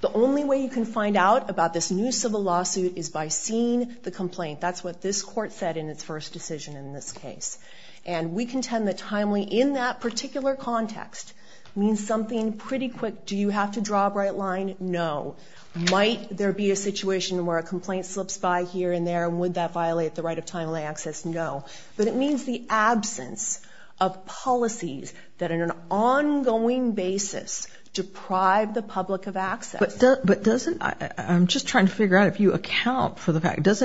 The only way you can find out about this new civil lawsuit is by seeing the complaint. That's what this court said in its first decision in this case. And we contend that timely, in that particular context, means something pretty quick. Do you have to draw a bright line? No. Might there be a situation where a complaint slips by here and there, and would that violate the right of timely access? No. But it means the absence of policies that on an ongoing basis deprive the public of access. But doesn't... I'm just trying to figure out if you account for the fact... Does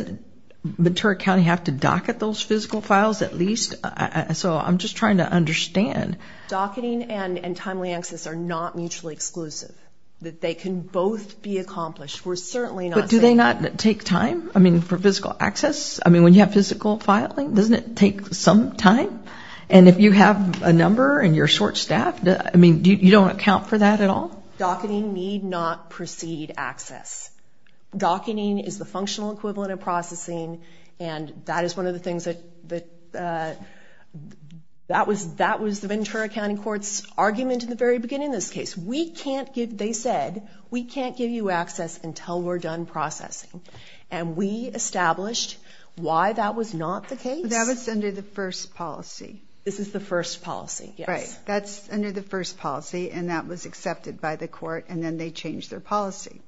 Ventura County have to docket those physical files at least? So I'm just trying to understand. Docketing and timely access are not mutually exclusive. They can both be accomplished. We're certainly not saying... But do they not take time? I mean, for physical access? I mean, when you have physical filing, doesn't it take some time? And if you have a number and you're short-staffed, I mean, you don't account for that at all? Docketing need not precede access. Docketing is the functional equivalent of processing, and that is one of the things that... That was Ventura County Court's argument at the very beginning of this case. They said, we can't give you access until we're done processing. And we established why that was not the case. That was under the first policy. This is the first policy, yes. That's under the first policy, and that was accepted by the court, and then they changed their policy.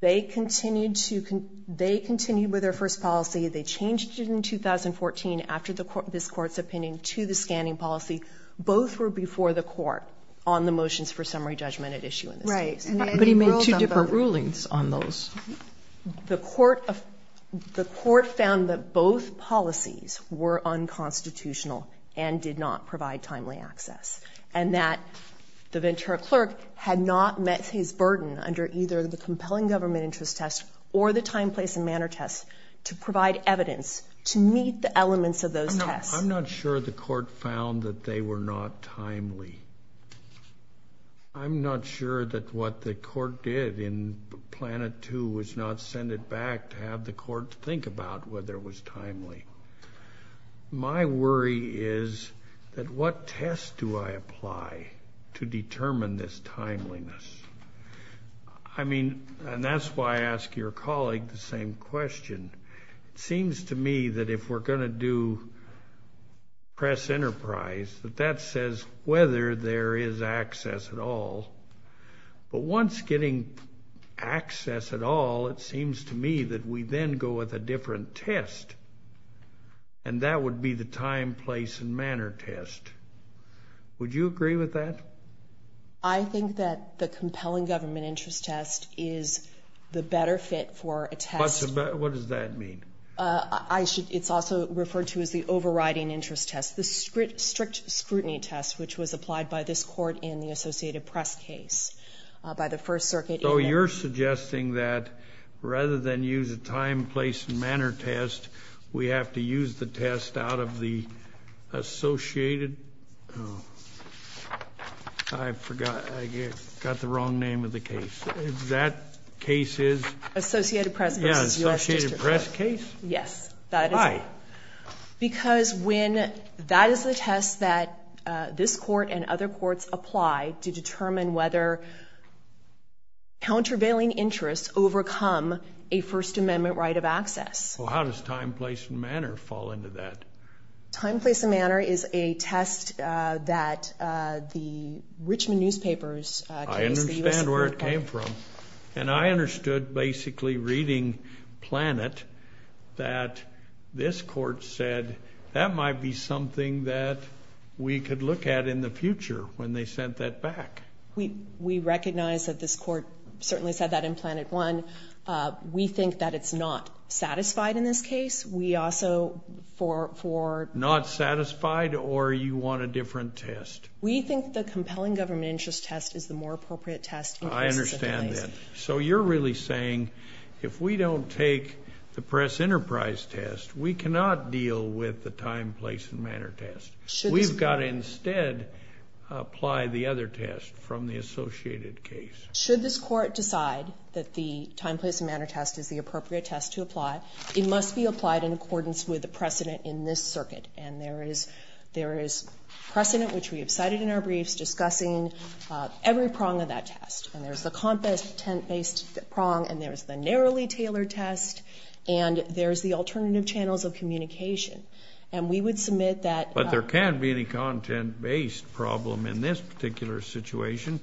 They continued with their first policy. They changed it in 2014, after this court's opinion, to the scanning policy. Both were before the court on the motions for summary judgment at issue in this case. Right. But he made two different rulings on those. The court found that both policies were unconstitutional and did not provide timely access. And that the Ventura clerk had not met his burden under either the compelling government interest test or the time, place, and manner test to provide evidence to meet the elements of those tests. I'm not sure the court found that they were not timely. I'm not sure that what the court did in Planet 2 was not send it back to have the court think about whether it was timely. My worry is that what test do I apply to determine this timeliness? I mean, and that's why I ask your colleague the same question. It seems to me that if we're going to do press enterprise, that that says whether there is access at all. But once getting access at all, it seems to me that we then go with a different test. And that would be the time, place, and manner test. Would you agree with that? I think that the compelling government interest test is the better fit for a test. What does that mean? It's also referred to as the overriding interest test, the strict scrutiny test, which was applied by this court in the Associated Press case by the First Circuit. So you're suggesting that rather than use a time, place, and manner test, we have to use the test out of the Associated... Oh, I forgot. I got the wrong name of the case. That case is... Associated Press. Yeah, Associated Press case? Yes. Why? Because when that is a test that this court and other courts apply to determine whether countervailing interests overcome a First Amendment right of access. Well, how does time, place, and manner fall into that? Time, place, and manner is a test that the Richmond newspapers... I understand where it came from. And I understood basically reading Planet that this court said, that might be something that we could look at in the future when they sent that back. We recognize that this court certainly said that in Planet One. We think that it's not satisfied in this case. We also, for... Not satisfied or you want a different test? We think the compelling government interest test is the more appropriate test. I understand that. So you're really saying, if we don't take the Press-Enterprise test, we cannot deal with the time, place, and manner test. We've got to instead apply the other test from the associated case. Should this court decide that the time, place, and manner test is the appropriate test to apply, it must be applied in accordance with the precedent in this circuit. And there is precedent, which we have cited in our briefs, discussing every prong of that test. And there's a compass, tent-based prong, and there's the narrowly tailored test, and there's the alternative channels of communication. And we would submit that... But there can't be any content-based problem in this particular situation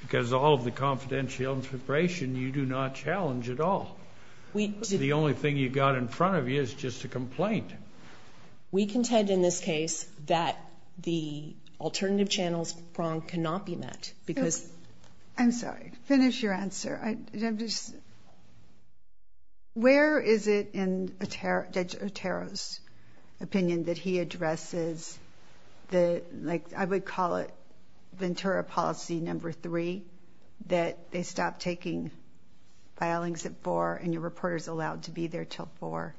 because all of the confidential information, you do not challenge at all. The only thing you've got in front of you is just a complaint. We contend in this case that the alternative channels prong cannot be met because... I'm sorry. Finish your answer. Where is it in Judge Otero's opinion that he addresses the... I would call it Ventura policy number 3, that they stop taking filings at 4 and your reporter's allowed to be there till 4?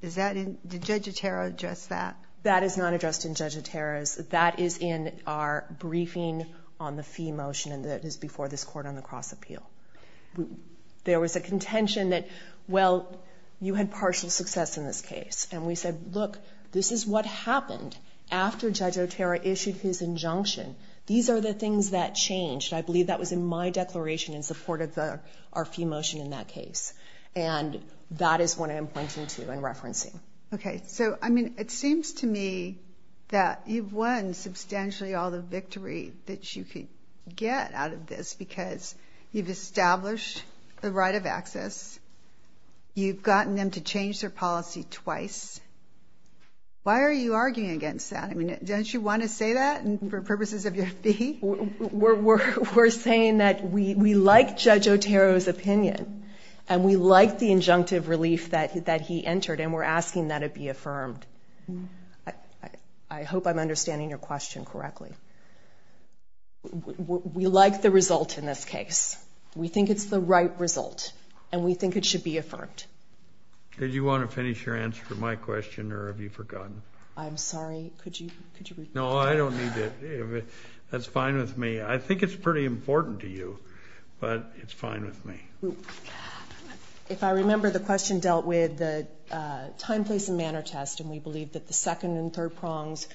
Did Judge Otero address that? That is not addressed in Judge Otero's. That is in our briefing on the fee motion before this Court on the Cross-Appeal. There was a contention that, well, you had partial success in this case. And we said, look, this is what happened after Judge Otero issued his injunction. These are the things that changed. I believe that was in my declaration in support of our fee motion in that case. And that is what I'm pointing to and referencing. Okay. So, I mean, it seems to me that you've won substantially all the victory that you could get out of this because you've established the right of access. You've gotten them to change their policy twice. Why are you arguing against that? I mean, don't you want to say that for purposes of your fee? We're saying that we like Judge Otero's opinion and we like the injunctive relief that he entered and we're asking that it be affirmed. I hope I'm understanding your question correctly. We like the result in this case. We think it's the right result and we think it should be affirmed. Did you want to finish your answer to my question or have you forgotten? I'm sorry. Could you repeat that? No, I don't need it. That's fine with me. I think it's pretty important to you, but it's fine with me. If I remember, the question dealt with the time, place, and manner test and we believe that the second and third prongs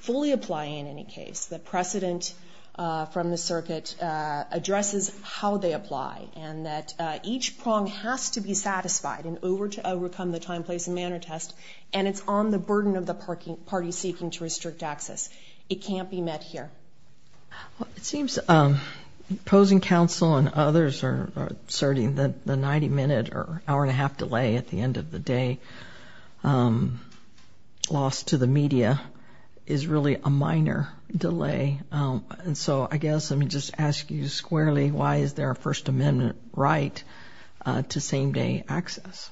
fully apply in any case. The precedent from the circuit addresses how they apply and that each prong has to be satisfied in order to overcome the time, place, and manner test and it's on the burden of the party seeking to restrict access. It can't be met here. It seems opposing counsel and others are asserting that the 90-minute or hour-and-a-half delay at the end of the day lost to the media is really a minor delay. So I guess I'm just asking you squarely, why is there a First Amendment right to same-day access?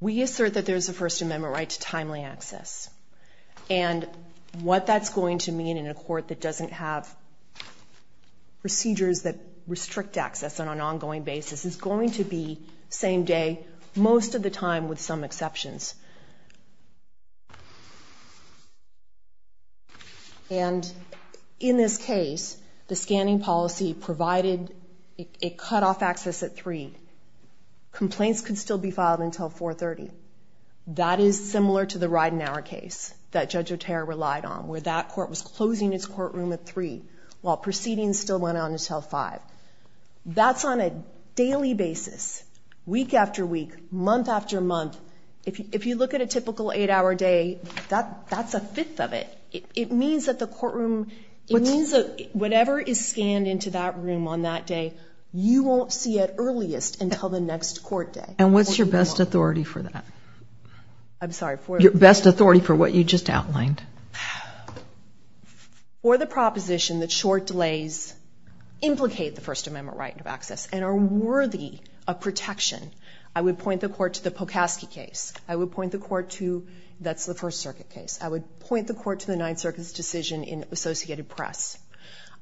We assert that there's a First Amendment right to timely access. And what that's going to mean in a court that doesn't have procedures that restrict access on an ongoing basis is going to be same day most of the time with some exceptions. And in this case, the scanning policy provided a cutoff access at 3. Complaints could still be filed until 4.30. That is similar to the Ridenour case that Judge Otero relied on, where that court was closing its courtroom at 3 while proceedings still went on until 5. That's on a daily basis, week after week, month after month. If you look at a typical eight-hour day, that's a fifth of it. It means that the courtroom, it means that whatever is scanned into that room on that day, you won't see it earliest until the next court day. And what's your best authority for that? I'm sorry, for what? I'm sorry for what you just outlined. For the proposition that short delays implicate the First Amendment right of access and are worthy of protection, I would point the court to the Pocaskey case. I would point the court to, that's the First Circuit case. I would point the court to the Ninth Circuit's decision in Associated Press.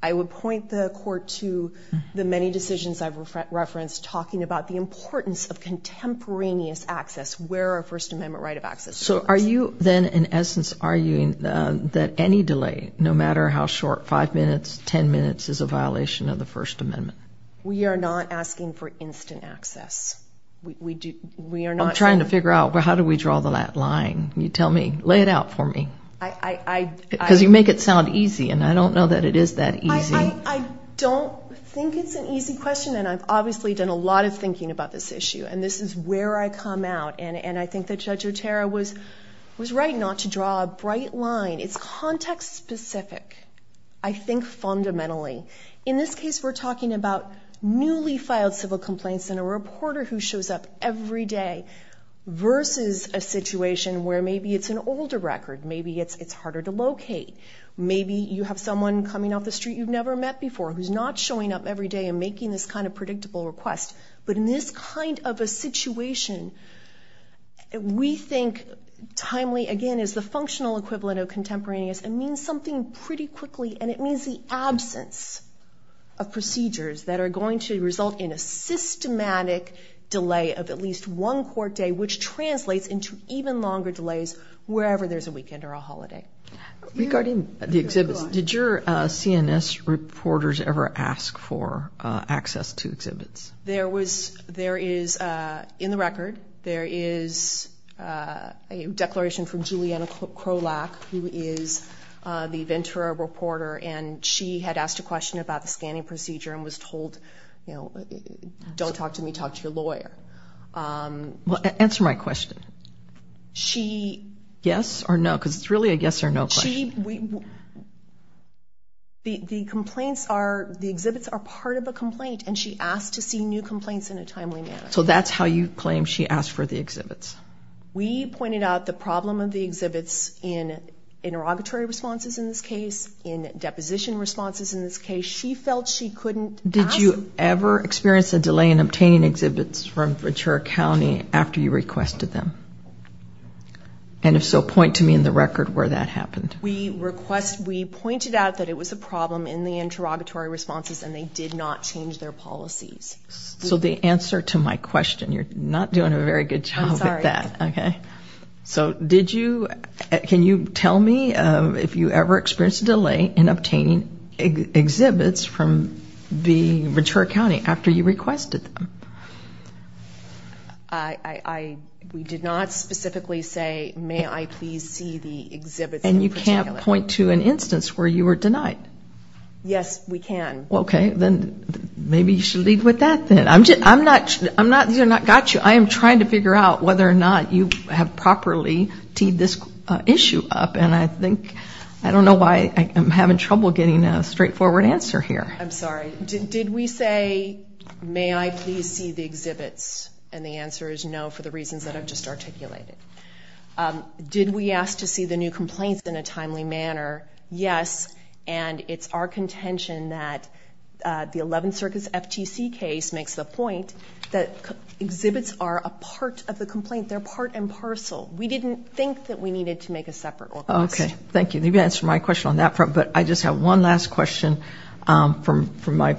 I would point the court to the many decisions I've referenced talking about the importance of contemporaneous access, where our First Amendment right of access is. So are you then, in essence, arguing that any delay, no matter how short, five minutes, ten minutes, is a violation of the First Amendment? We are not asking for instant access. We are not... I'm trying to figure out, how do we draw that line? You tell me. Lay it out for me. I... Because you make it sound easy, and I don't know that it is that easy. I don't think it's an easy question, and I've obviously done a lot of thinking about this issue, and this is where I come out, and I think that Judge Otero was right not to draw a bright line. It's context-specific, I think, fundamentally. In this case, we're talking about newly filed civil complaints and a reporter who shows up every day versus a situation where maybe it's an older record. Maybe it's harder to locate. Maybe you have someone coming up the street you've never met before who's not showing up every day and making this kind of predictable request. But in this kind of a situation, we think timely, again, is the functional equivalent of contemporaneous and means something pretty quickly, and it means the absence of procedures that are going to result in a systematic delay of at least one court day which translates into even longer delays wherever there's a weekend or a holiday. Regarding the exhibit, did your CNS reporters ever ask for access to exhibits? There is, in the record, there is a declaration from Juliana Krolak, who is the Ventura reporter, and she had asked a question about the scanning procedure and was told, you know, don't talk to me, talk to your lawyer. Answer my question. She... because it's really a yes or no question. The exhibits are part of a complaint, and she asked to see new complaints in a timely manner. So that's how you claim she asked for the exhibits. We pointed out the problem of the exhibits in interrogatory responses in this case, in deposition responses in this case. She felt she couldn't... Did you ever experience a delay in obtaining exhibits from Ventura County after you requested them? And if so, point to me in the record where that happened. We requested, we pointed out that it was a problem in the interrogatory responses and they did not change their policies. So the answer to my question, you're not doing a very good job at that. I'm sorry. Okay. So did you... Can you tell me if you ever experienced a delay in obtaining exhibits from Ventura County after you requested them? I... We did not specifically say, may I please see the exhibits... And you can't point to an instance where you were denied? Yes, we can. Okay. Then maybe you should leave with that then. I'm not... I got you. I am trying to figure out whether or not you have properly teed this issue up and I think... I don't know why I'm having trouble getting a straightforward answer here. I'm sorry. Did we say, may I please see the exhibits? And the answer is no for the reasons that I've just articulated. Did we ask to see the new complaints in a timely manner? Yes. And it's our contention that the 11th Circus FTC case makes the point that exhibits are a part of the complaint. They're part and parcel. We didn't think that we needed to make a separate order. Okay. Thank you. Maybe that's my question on that front, but I just have one last question from my...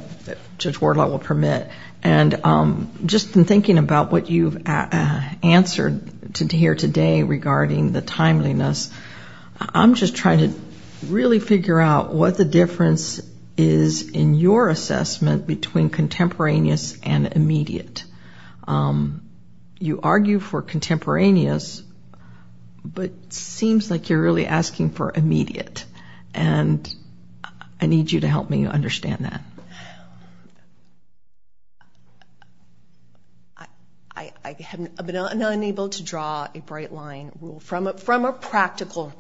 Just word level permit. And just in thinking about what you've answered here today regarding the timeliness, I'm just trying to really figure out what the difference is in your assessment between contemporaneous and immediate. You argue for contemporaneous, but it seems like you're really asking for immediate. And I need you to help me understand that. I've been unable to draw a bright line from a practical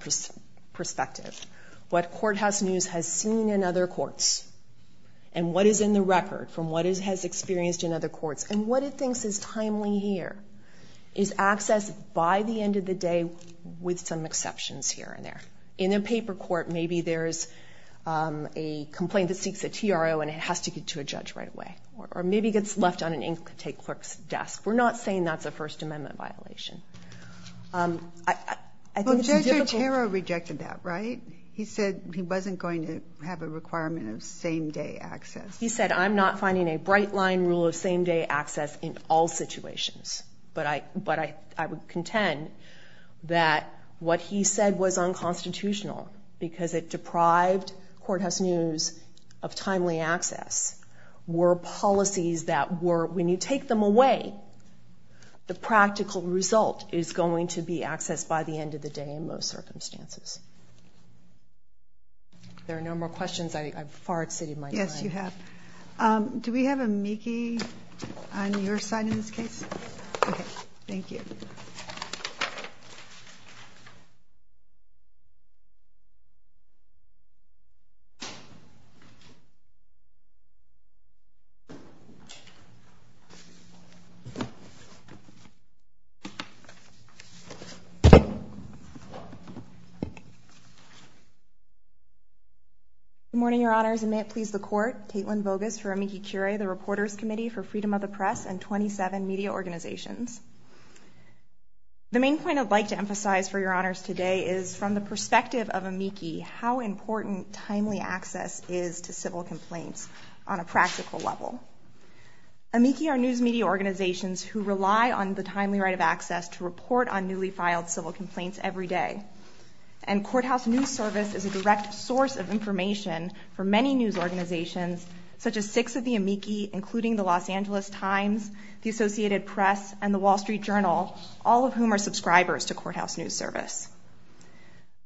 perspective. What courthouse news has seen in other courts and what is in the record from what it has experienced in other courts and what it thinks is timely here is accessed by the end of the day with some exceptions here and there. In a paper court, maybe there is a complaint that seeks a TRO and it has to get to a judge right away. Or maybe it gets left on an ink-tape clerk's desk. We're not saying that's a First Amendment violation. Well, Judge Otero rejected that, right? He said he wasn't going to have a requirement of same-day access. He said, I'm not finding a bright line rule of same-day access in all situations. But I would contend that what he said was unconstitutional because it deprived courthouse news of timely access were policies that were, when you take them away, the practical result is going to be accessed by the end of the day in those circumstances. If there are no more questions, I've far exceeded my time. Yes, you have. Do we have a mickey on your side in this case? Okay, thank you. Good morning, Your Honors, and may it please the Court, Caitlin Voges for amici curiae, the Reporters Committee for Freedom of the Press and 27 media organizations. The main point I'd like to emphasize for Your Honors today is from the perspective of amici, Amici are news media organizations that provide timely access to civil complaints. Amici are news media organizations who rely on the timely right of access to report on newly filed civil complaints every day. And courthouse news service is a direct source of information for many news organizations such as six of the amici, including the Los Angeles Times, the Associated Press, and the Wall Street Journal, all of whom are subscribers to courthouse news service.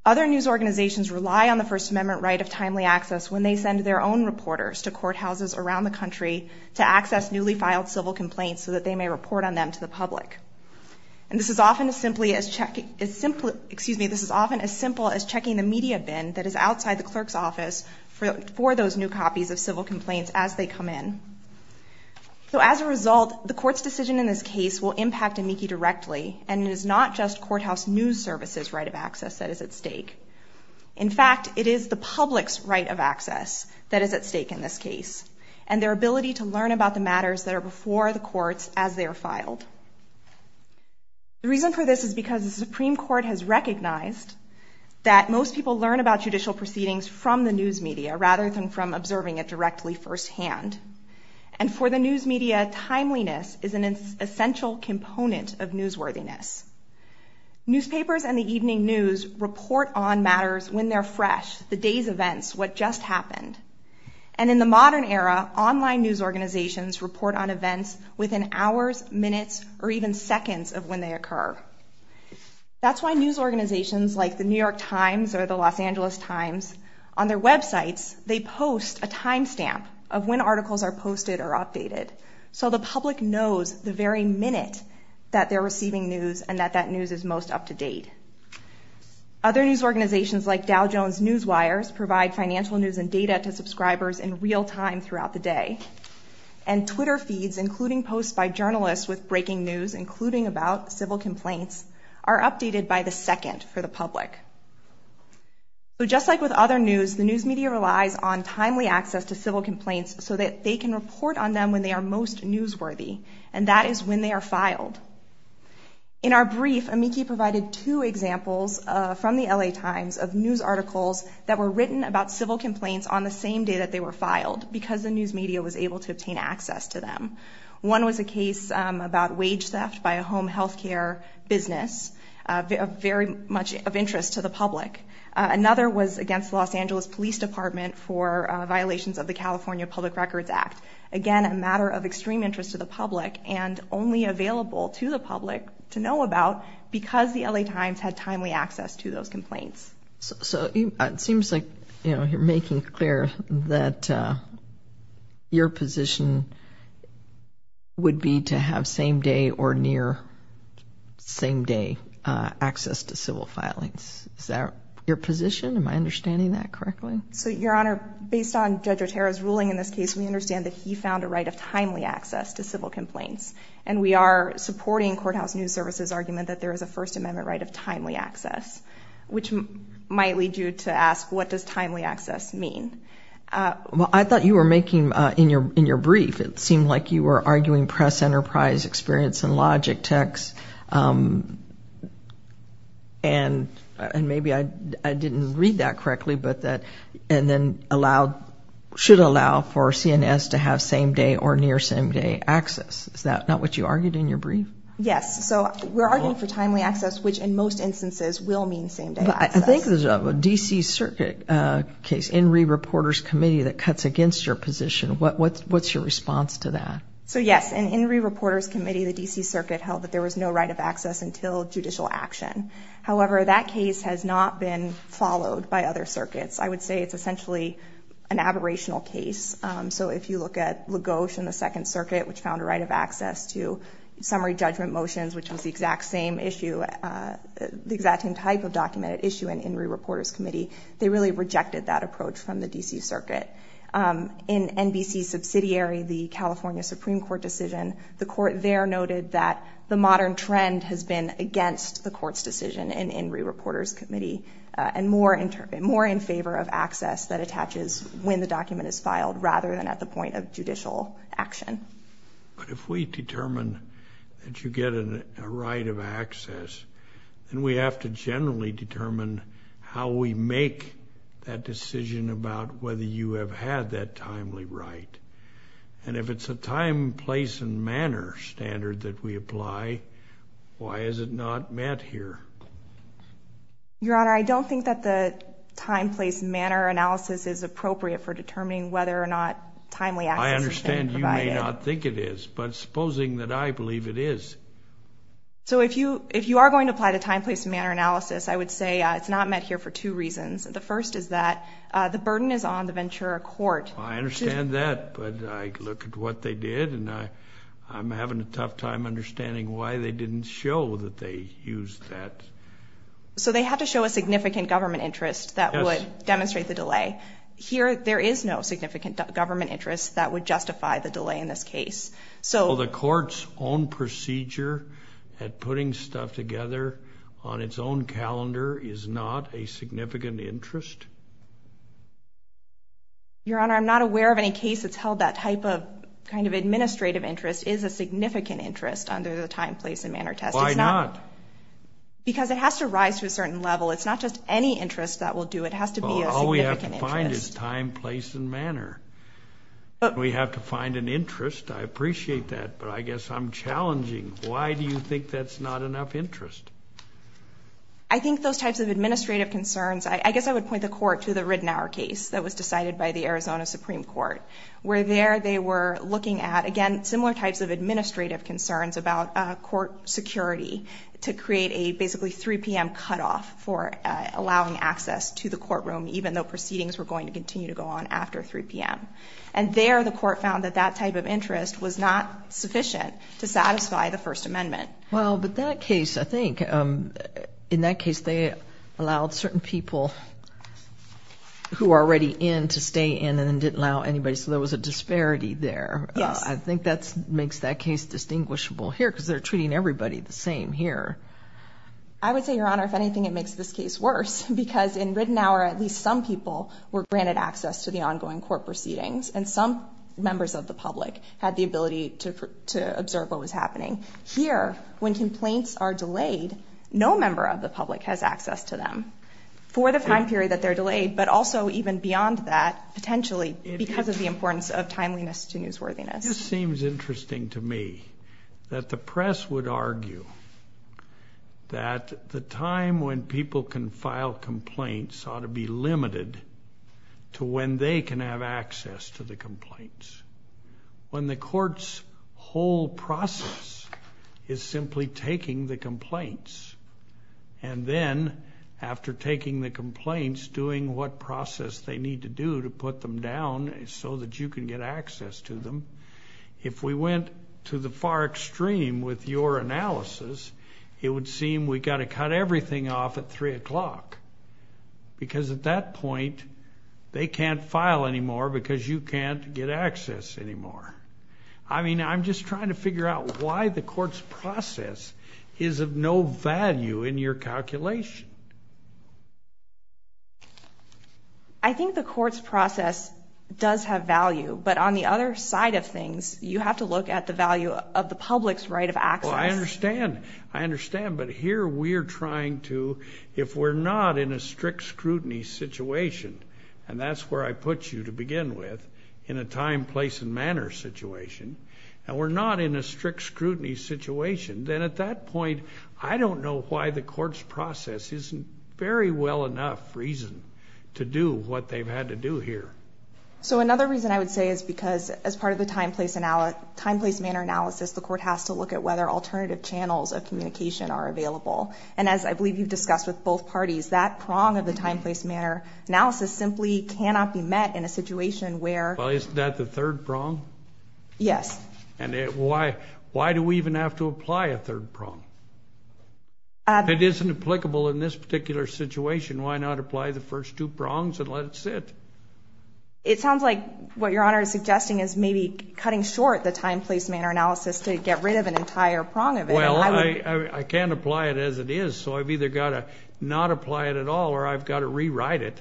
Other news organizations rely on the First Amendment right of timely access when they send their own reporters to courthouses around the country to access newly filed civil complaints so that they may report on them to the public. And this is often as simply as checking the media bin that is outside the clerk's office for those new copies of civil complaints as they come in. So as a result, the court's decision in this case will impact amici directly, and it is not just courthouse news service's right of access that is at stake. In fact, it is the public's right of access that is at stake in this case, and their ability to learn about the matters that are before the courts as they are filed. The reason for this is because the Supreme Court has recognized that most people learn about judicial proceedings from the news media rather than from observing it directly firsthand. And for the news media, timeliness is an essential component of newsworthiness. Newspapers and the evening news report on matters when they're fresh, the day's events, what just happened. And in the modern era, online news organizations report on events within hours, minutes, or even seconds of when they occur. That's why news organizations like the New York Times or the Los Angeles Times, on their websites, they post a timestamp of when articles are posted or updated so the public knows the very minute that they're receiving news and that that news is most up to date. Other news organizations like Dow Jones Newswires provide financial news and data to subscribers in real time throughout the day. And Twitter feeds, including posts by journalists with breaking news, including about civil complaints, are updated by the second for the public. So just like with other news, the news media relies on timely access to civil complaints so that they can report on them when they are most newsworthy, and that is when they are filed. In our brief, Amiki provided two examples from the LA Times of news articles that were written about civil complaints on the same day that they were filed because the news media was able to obtain access to them. One was a case about wage theft by a home healthcare business, very much of interest to the public. Another was against the Los Angeles Police Department for violations of the California Public Records Act. Again, a matter of extreme interest to the public and only available to the public to know about because the LA Times had timely access to those complaints. So it seems like, you know, you're making clear that your position would be to have same day or near same day access to civil filings. Is that your position? Am I understanding that correctly? Your Honor, based on Judge Otero's ruling in this case, we understand that he found a right of timely access to civil complaints, and we are supporting courthouse news services' argument that there is a First Amendment right of timely access, which might lead you to ask, what does timely access mean? Well, I thought you were making, in your brief, it seemed like you were arguing press enterprise experience and logic text, and maybe I didn't read that correctly, but that, and then allowed, should allow for CNS to have same day or near same day access. Is that not what you argued in your brief? Yes. So we're arguing for timely access, which in most instances will mean same day access. But I think what I'm trying to get at is what is a D.C. Circuit case, In re Reporters Committee that cuts against your position, what's your response to that? So yes, in In re Reporters Committee, the D.C. Circuit held that there was no right of access until judicial action. However, that case has not been followed by other circuits. I would say it's essentially an aberrational case. So if you look at Lagos in the Second Circuit, which found a right of access to summary judgment motions, which was the exact same issue, the exact same type of document issue in In re Reporters Committee, they really rejected that approach from the D.C. Circuit. In NBC's subsidiary, the California Supreme Court decision, the court there noted that the modern trend has been against the court's decision in In re Reporters Committee and more in favor of access that attaches when the document is filed rather than at the point of judicial action. But if we determine that you get a right of access and we have to generally determine how we make that decision about whether you have had that timely right, and if it's a time, place, and manner standard that we apply, why is it not met here? Your Honor, I don't think that the time, place, manner analysis is appropriate for determining whether or not timely access is provided. I understand you may not think it is, but supposing that I believe it is. So if you are going to apply the time, place, and manner analysis, I would say it's not met here for two reasons. The first is that the burden is on the Ventura Court. I understand that, but I look at what they did and I'm having a tough time understanding why they didn't show that they used that. So they have to show a significant government interest that would demonstrate the delay. Here, there is no significant government interest that would justify the delay in this case. So the court's own procedure at putting stuff together on its own calendar is not a significant interest. Your Honor, I'm not aware of any case that's held that type of kind of administrative interest is a significant interest under the time, place, and manner test. Why not? Because it has to rise to a certain level. It's not just any interest that will do it. It has to be a significant interest. All we have to find is time, place, and manner. We have to find an interest. I appreciate that, but I guess I'm challenging why do you think that's not enough interest? I think those types of administrative concerns, I guess I would point the court to the Ridenour case that was decided by the Arizona Supreme Court, where there they were looking at, again, similar types of administrative concerns about court security to create a basically 3 p.m. cutoff for allowing access to the courtroom even though proceedings were going to continue to go on after 3 p.m. And there, the court found that that type of interest was not sufficient to satisfy the First Amendment. Well, but that case, I think, in that case, they allowed certain people who are already in to stay in and didn't allow anybody, so there was a disparity there. I think that makes that case distinguishable here because they're treating everybody the same here. I would say, Your Honor, if anything, it makes this case worse because in Ridenour, at least some people were granted access to the ongoing court proceedings and some members of the public had the ability to observe what was happening. Here, when complaints are delayed, no member of the public has access to them for the time period that they're delayed but also even beyond that, potentially, because of the importance of timeliness to newsworthiness. This seems interesting to me that the press would argue that the time when people can file complaints ought to be limited to when they can have access to the complaints. When the court's whole process is simply taking the complaints and then, after taking the complaints, doing what process they need to do to put them down so that you can get access to them, if we went to the far extreme with your analysis, it would seem we've got to cut everything off at 3 o'clock because at that point, they can't file anymore because you can't get access anymore. I mean, I'm just trying to figure out why the court's process is of no value in your calculation. I think the court's process does have value, but on the other side of things, you have to look at the value of the public's right of access. I understand. I understand, but here we're trying to, if we're not in a strict scrutiny situation, and that's where I put you to begin with, in a time, place, and manner situation, and we're not in a strict scrutiny situation, then at that point, I don't know why the court's process isn't very well enough reason to do what they've had to do here. So another reason I would say is because, as part of the time, place, manner analysis, the court has to look at whether alternative channels of communication are available, and as I believe you've discussed with both parties, that prong of the time, place, manner analysis simply cannot be met in a situation where... Well, isn't that the third prong? Yes. And why do we even have to apply a third prong? If it isn't applicable in this particular situation, why not apply the first two prongs and let it sit? It sounds like what Your Honor is suggesting is maybe cutting short the time, place, manner analysis to get rid of an entire prong of it. Well, I can't apply it as it is, so I've either got to not apply it at all, or I've got to rewrite it.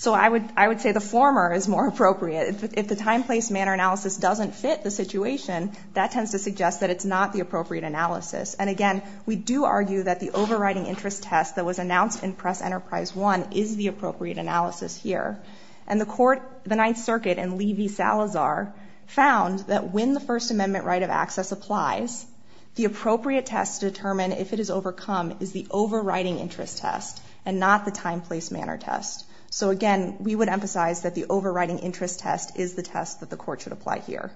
So I would say the former is more appropriate. If the time, place, manner analysis doesn't fit the situation, that tends to suggest that it's not the appropriate analysis. And again, we do argue that the overriding interest test that was announced in Press Enterprise 1 is the appropriate analysis here. And the court, the Ninth Circuit and Lee v. Salazar found that when the First Amendment right of access applies, the appropriate test to determine if it is overcome is the overriding interest test and not the time, place, manner test. So again, we would emphasize that the overriding interest test is the test that the court should apply here.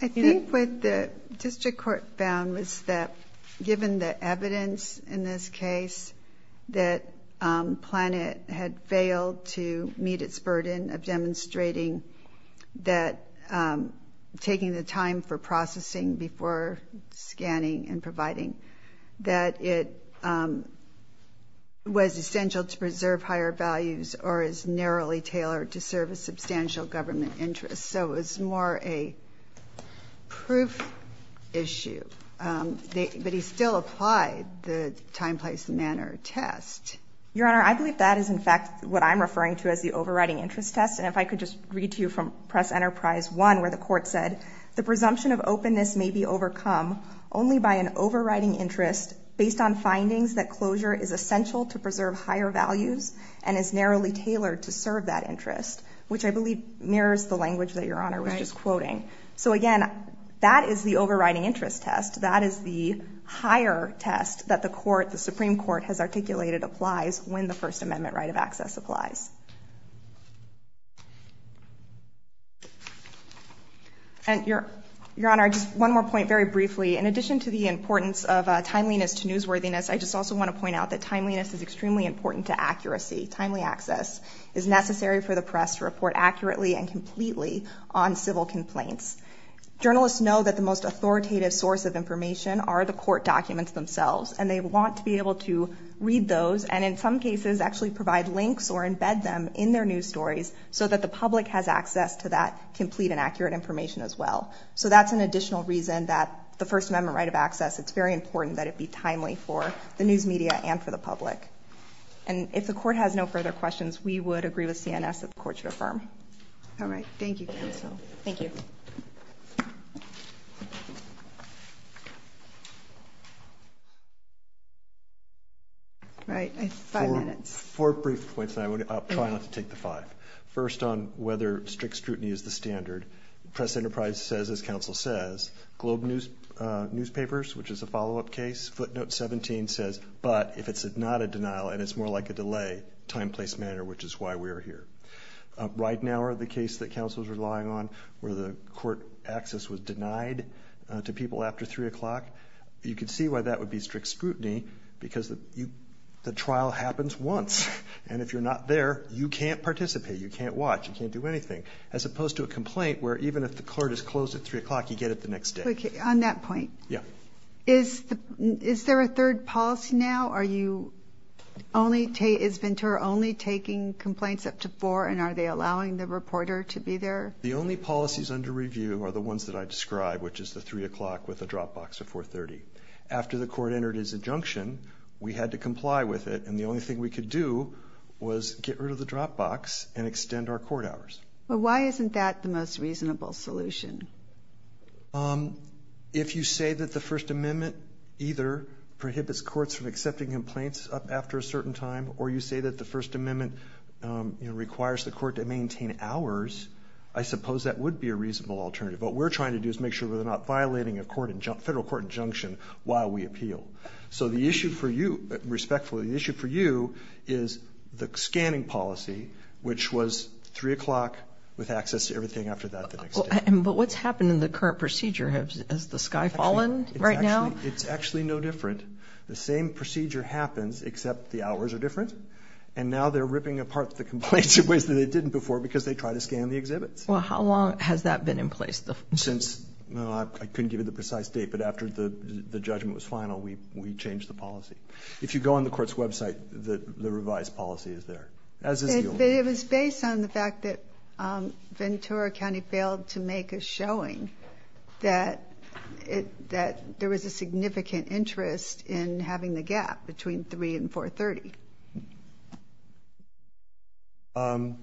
I think what the district court found was that given the evidence in this case that Planet had failed to meet its burden of demonstrating that taking the time for processing before scanning and providing, that it was essential to preserve higher values or is narrowly tailored to serve a substantial government interest. So it's more a proof issue that he still applied the time, place, manner test. Your Honor, I believe that is in fact what I'm referring to as the overriding interest test. And if I could just read to you from Press Enterprise 1 where the court said, the presumption of openness may be overcome only by an overriding interest based on findings that closure is essential to preserve higher values and is narrowly tailored to serve that interest, which I believe mirrors the language that Your Honor was just quoting. So again, that is the overriding interest test. That is the higher test that the Supreme Court has articulated applies when the First Amendment right of access applies. And Your Honor, just one more point very briefly. In addition to the importance of timeliness to newsworthiness, I just also want to point out that timeliness is extremely important to accuracy. Timely access is necessary for the press to report accurately and completely on civil complaints. Journalists know that the most authoritative source of information are the court documents themselves, and they want to be able to read those and in some cases actually provide links or embed them in their news stories so that the public has access to that complete and accurate information as well. So that's an additional reason that the First Amendment right of access, it's very important that it be timely for the news media to be able to answer the public. And if the court has no further questions, we would agree with CNS that the court should affirm. All right. Thank you, counsel. Thank you. All right. Five minutes. Four brief points and I would try not to take the five. First on whether strict scrutiny is the standard. Press Enterprise says, as counsel says, Globe Newspapers, which is a follow-up case, Footnote 17 says, but if it's not a denial and it's more like a delay, time, place, matter, which is why we're here. Right now are the cases that counsel's relying on where the court access was denied to people after 3 o'clock. You can see why that would be strict scrutiny because the trial happens once and if you're not there, you can't participate, you can't watch, you can't do anything, as opposed to a complaint where even if the court is closed at 3 o'clock, you get it the next day. Okay, on that point. Yeah. Is there a third policy now or is Ventura only taking complaints up to 4 and are they allowing the reporter to be there? The only policies under review are the ones that I described, which is the 3 o'clock with the drop box at 4.30. After the court entered his injunction, we had to comply with it and the only thing we could do was get rid of the drop box and extend our court hours. But why isn't that the most reasonable solution? If you say that the First Amendment either prohibits courts from accepting complaints after a certain time or you say that the First Amendment requires the court to maintain hours, I suppose that would be a reasonable alternative. What we're trying to do is make sure we're not violating a federal court injunction while we appeal. So the issue for you, respectfully, the issue for you is the scanning policy, which was 3 o'clock with access to everything after that the next day. But what's happened in the current procedure? Has the sky fallen right now? It's actually no different. The same procedure happens except the hours are different and now they're ripping apart the complaints in ways that they didn't before because they tried to scan the exhibit. Well, how long has that been in place? Since... I couldn't give you the precise date, but after the judgment was final, we changed the policy. If you go on the court's website, the revised policy is there. It was based on the fact that Ventura County failed to make a showing that there was a significant interest in having the gap between 3 and 4.30.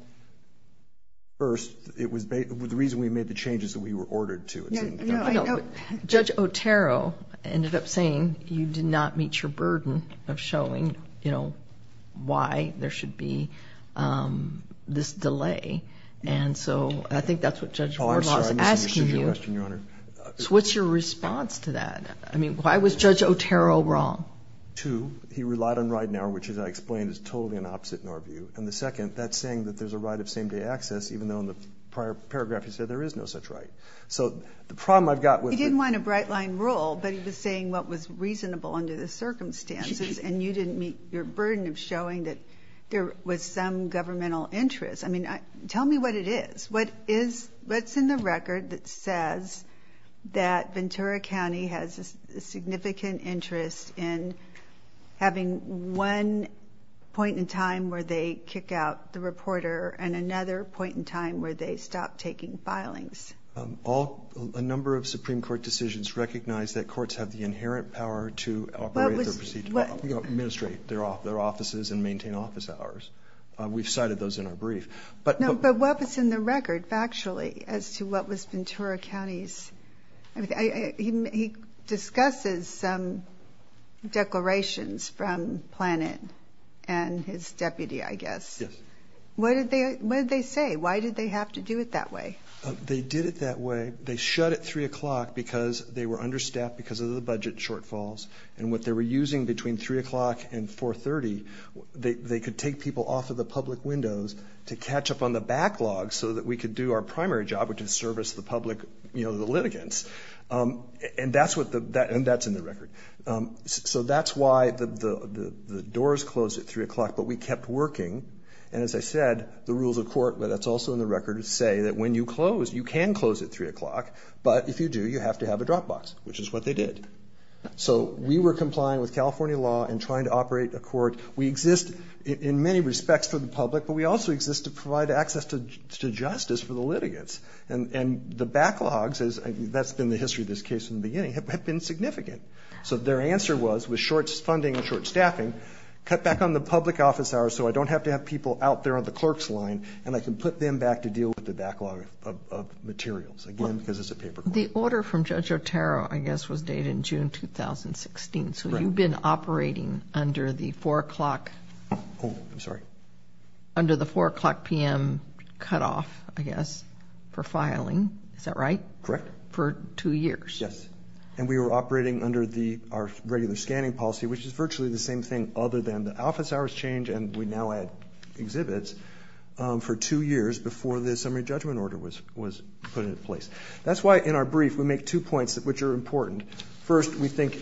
First, the reason we made the change is that we were ordered to. Judge Otero ended up saying you did not meet your burden of showing why there should be this delay. And so I think that's what Judge Otero was asking you. So what's your response to that? I mean, why was Judge Otero wrong? Two, he relied on right now, which as I explained is totally an opposite in our view. And the second, that's saying that there's a right of same-day access even though in the prior paragraph he said there is no such right. So the problem I've got was... He didn't want a bright-line rule, but he was saying what was reasonable under the circumstances and you didn't meet your burden of showing that there was some governmental interest. I mean, tell me what it is. What is... What's in the record that says that Ventura County has a significant interest in having one point in time where they kick out the reporter and another point in time where they stop taking filings? All... A number of Supreme Court decisions recognize that courts have the inherent power to operate the proceedings. What... You know, administrate their offices and maintain office hours. We've cited those in our brief. But... No, but what was in the record factually as to what was Ventura County's... I mean, he discusses some declarations from Planning and his deputy, I guess. Yes. What did they... What did they say? Why did they have to do it that way? They did it that way. They shut at 3 o'clock because they were understaffed because of the budget shortfalls and 4.30, they could take people off of the public windows to catch up on the backlog so that we could do what we were supposed to do and we could do what we were supposed to do to do our primary job which is service the public... You know, the litigants. And that's what the... And that's in the record. So that's why the doors closed at 3 o'clock but we kept working and as I said, the rules of court but that's also in the record say that when you close, you can close at 3 o'clock but if you do, you have to have a drop box which is what they did. So we were complying with California law and trying to operate the court. We exist in many respects for the public but we also exist to provide access to justice for the litigants and the backlogs that's been the history of this case in the beginning have been significant. So their answer was with short funding and short staffing, cut back on the public office hours so I don't have to have people out there on the clerk's line and I can put them back to deal with the backlog of materials. Again, because it's a paper. The order from Judge Otero I guess was dated so you've been operating under the 4 o'clock... Oh, I'm sorry. Under the 4 o'clock p.m. cutoff, I guess. Yes. So that was the order for access for filing. Is that right? Correct. For two years. Yes. And we were operating under our regular scanning policy which is virtually the same thing other than the office hours change and we now add exhibits for two years before the assembly judgment order was put into place. That's why in our brief which are important. First, we think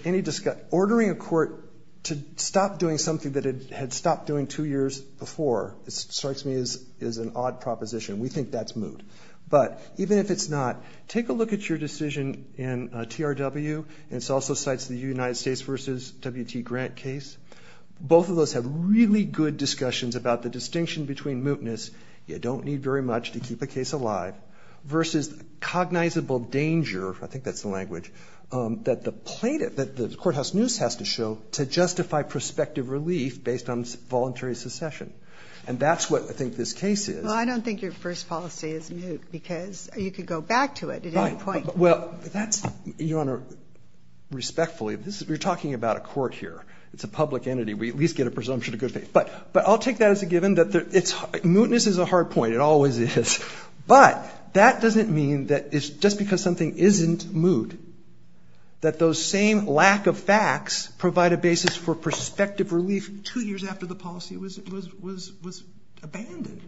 ordering a court to stop doing something that it had stopped doing two years before strikes me as an odd proposition. We think that's moved. But even if it's not take a look at your decision in TRW and it also cites the United States versus W.T. Grant case. Both of those have really good discussions about the distinction between mootness you don't need very much to keep a case alive versus cognizable danger I think that's the language that the court house news has to show to justify prospective relief based on voluntary secession. And that's what I think this case is. Well, I don't think your first policy is moot because you could go back to it. Right. Well, that's Your Honor respectfully we're talking about a court here. It's a public entity. We at least get a presumption of good faith. But I'll take that as a given that mootness is a hard point. It always is. But that doesn't mean that it's just because something isn't moot that those same lack of facts provide a basis for prospective relief two years after the policy was abandoned.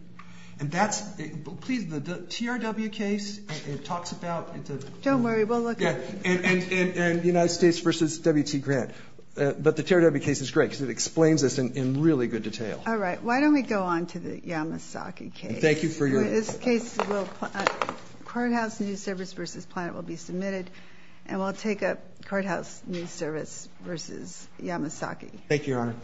And that's the TRW case talks about Don't worry, we'll look at it. And the United States versus W.T. Grant. But the TRW case is great because it explains this in really good detail. All right. Why don't we go on to the Yamasaki case. Thank you for your In this case, court house news service versus planet will be submitted and we'll take up court house news service versus Yamasaki. Thank you, Your Honor.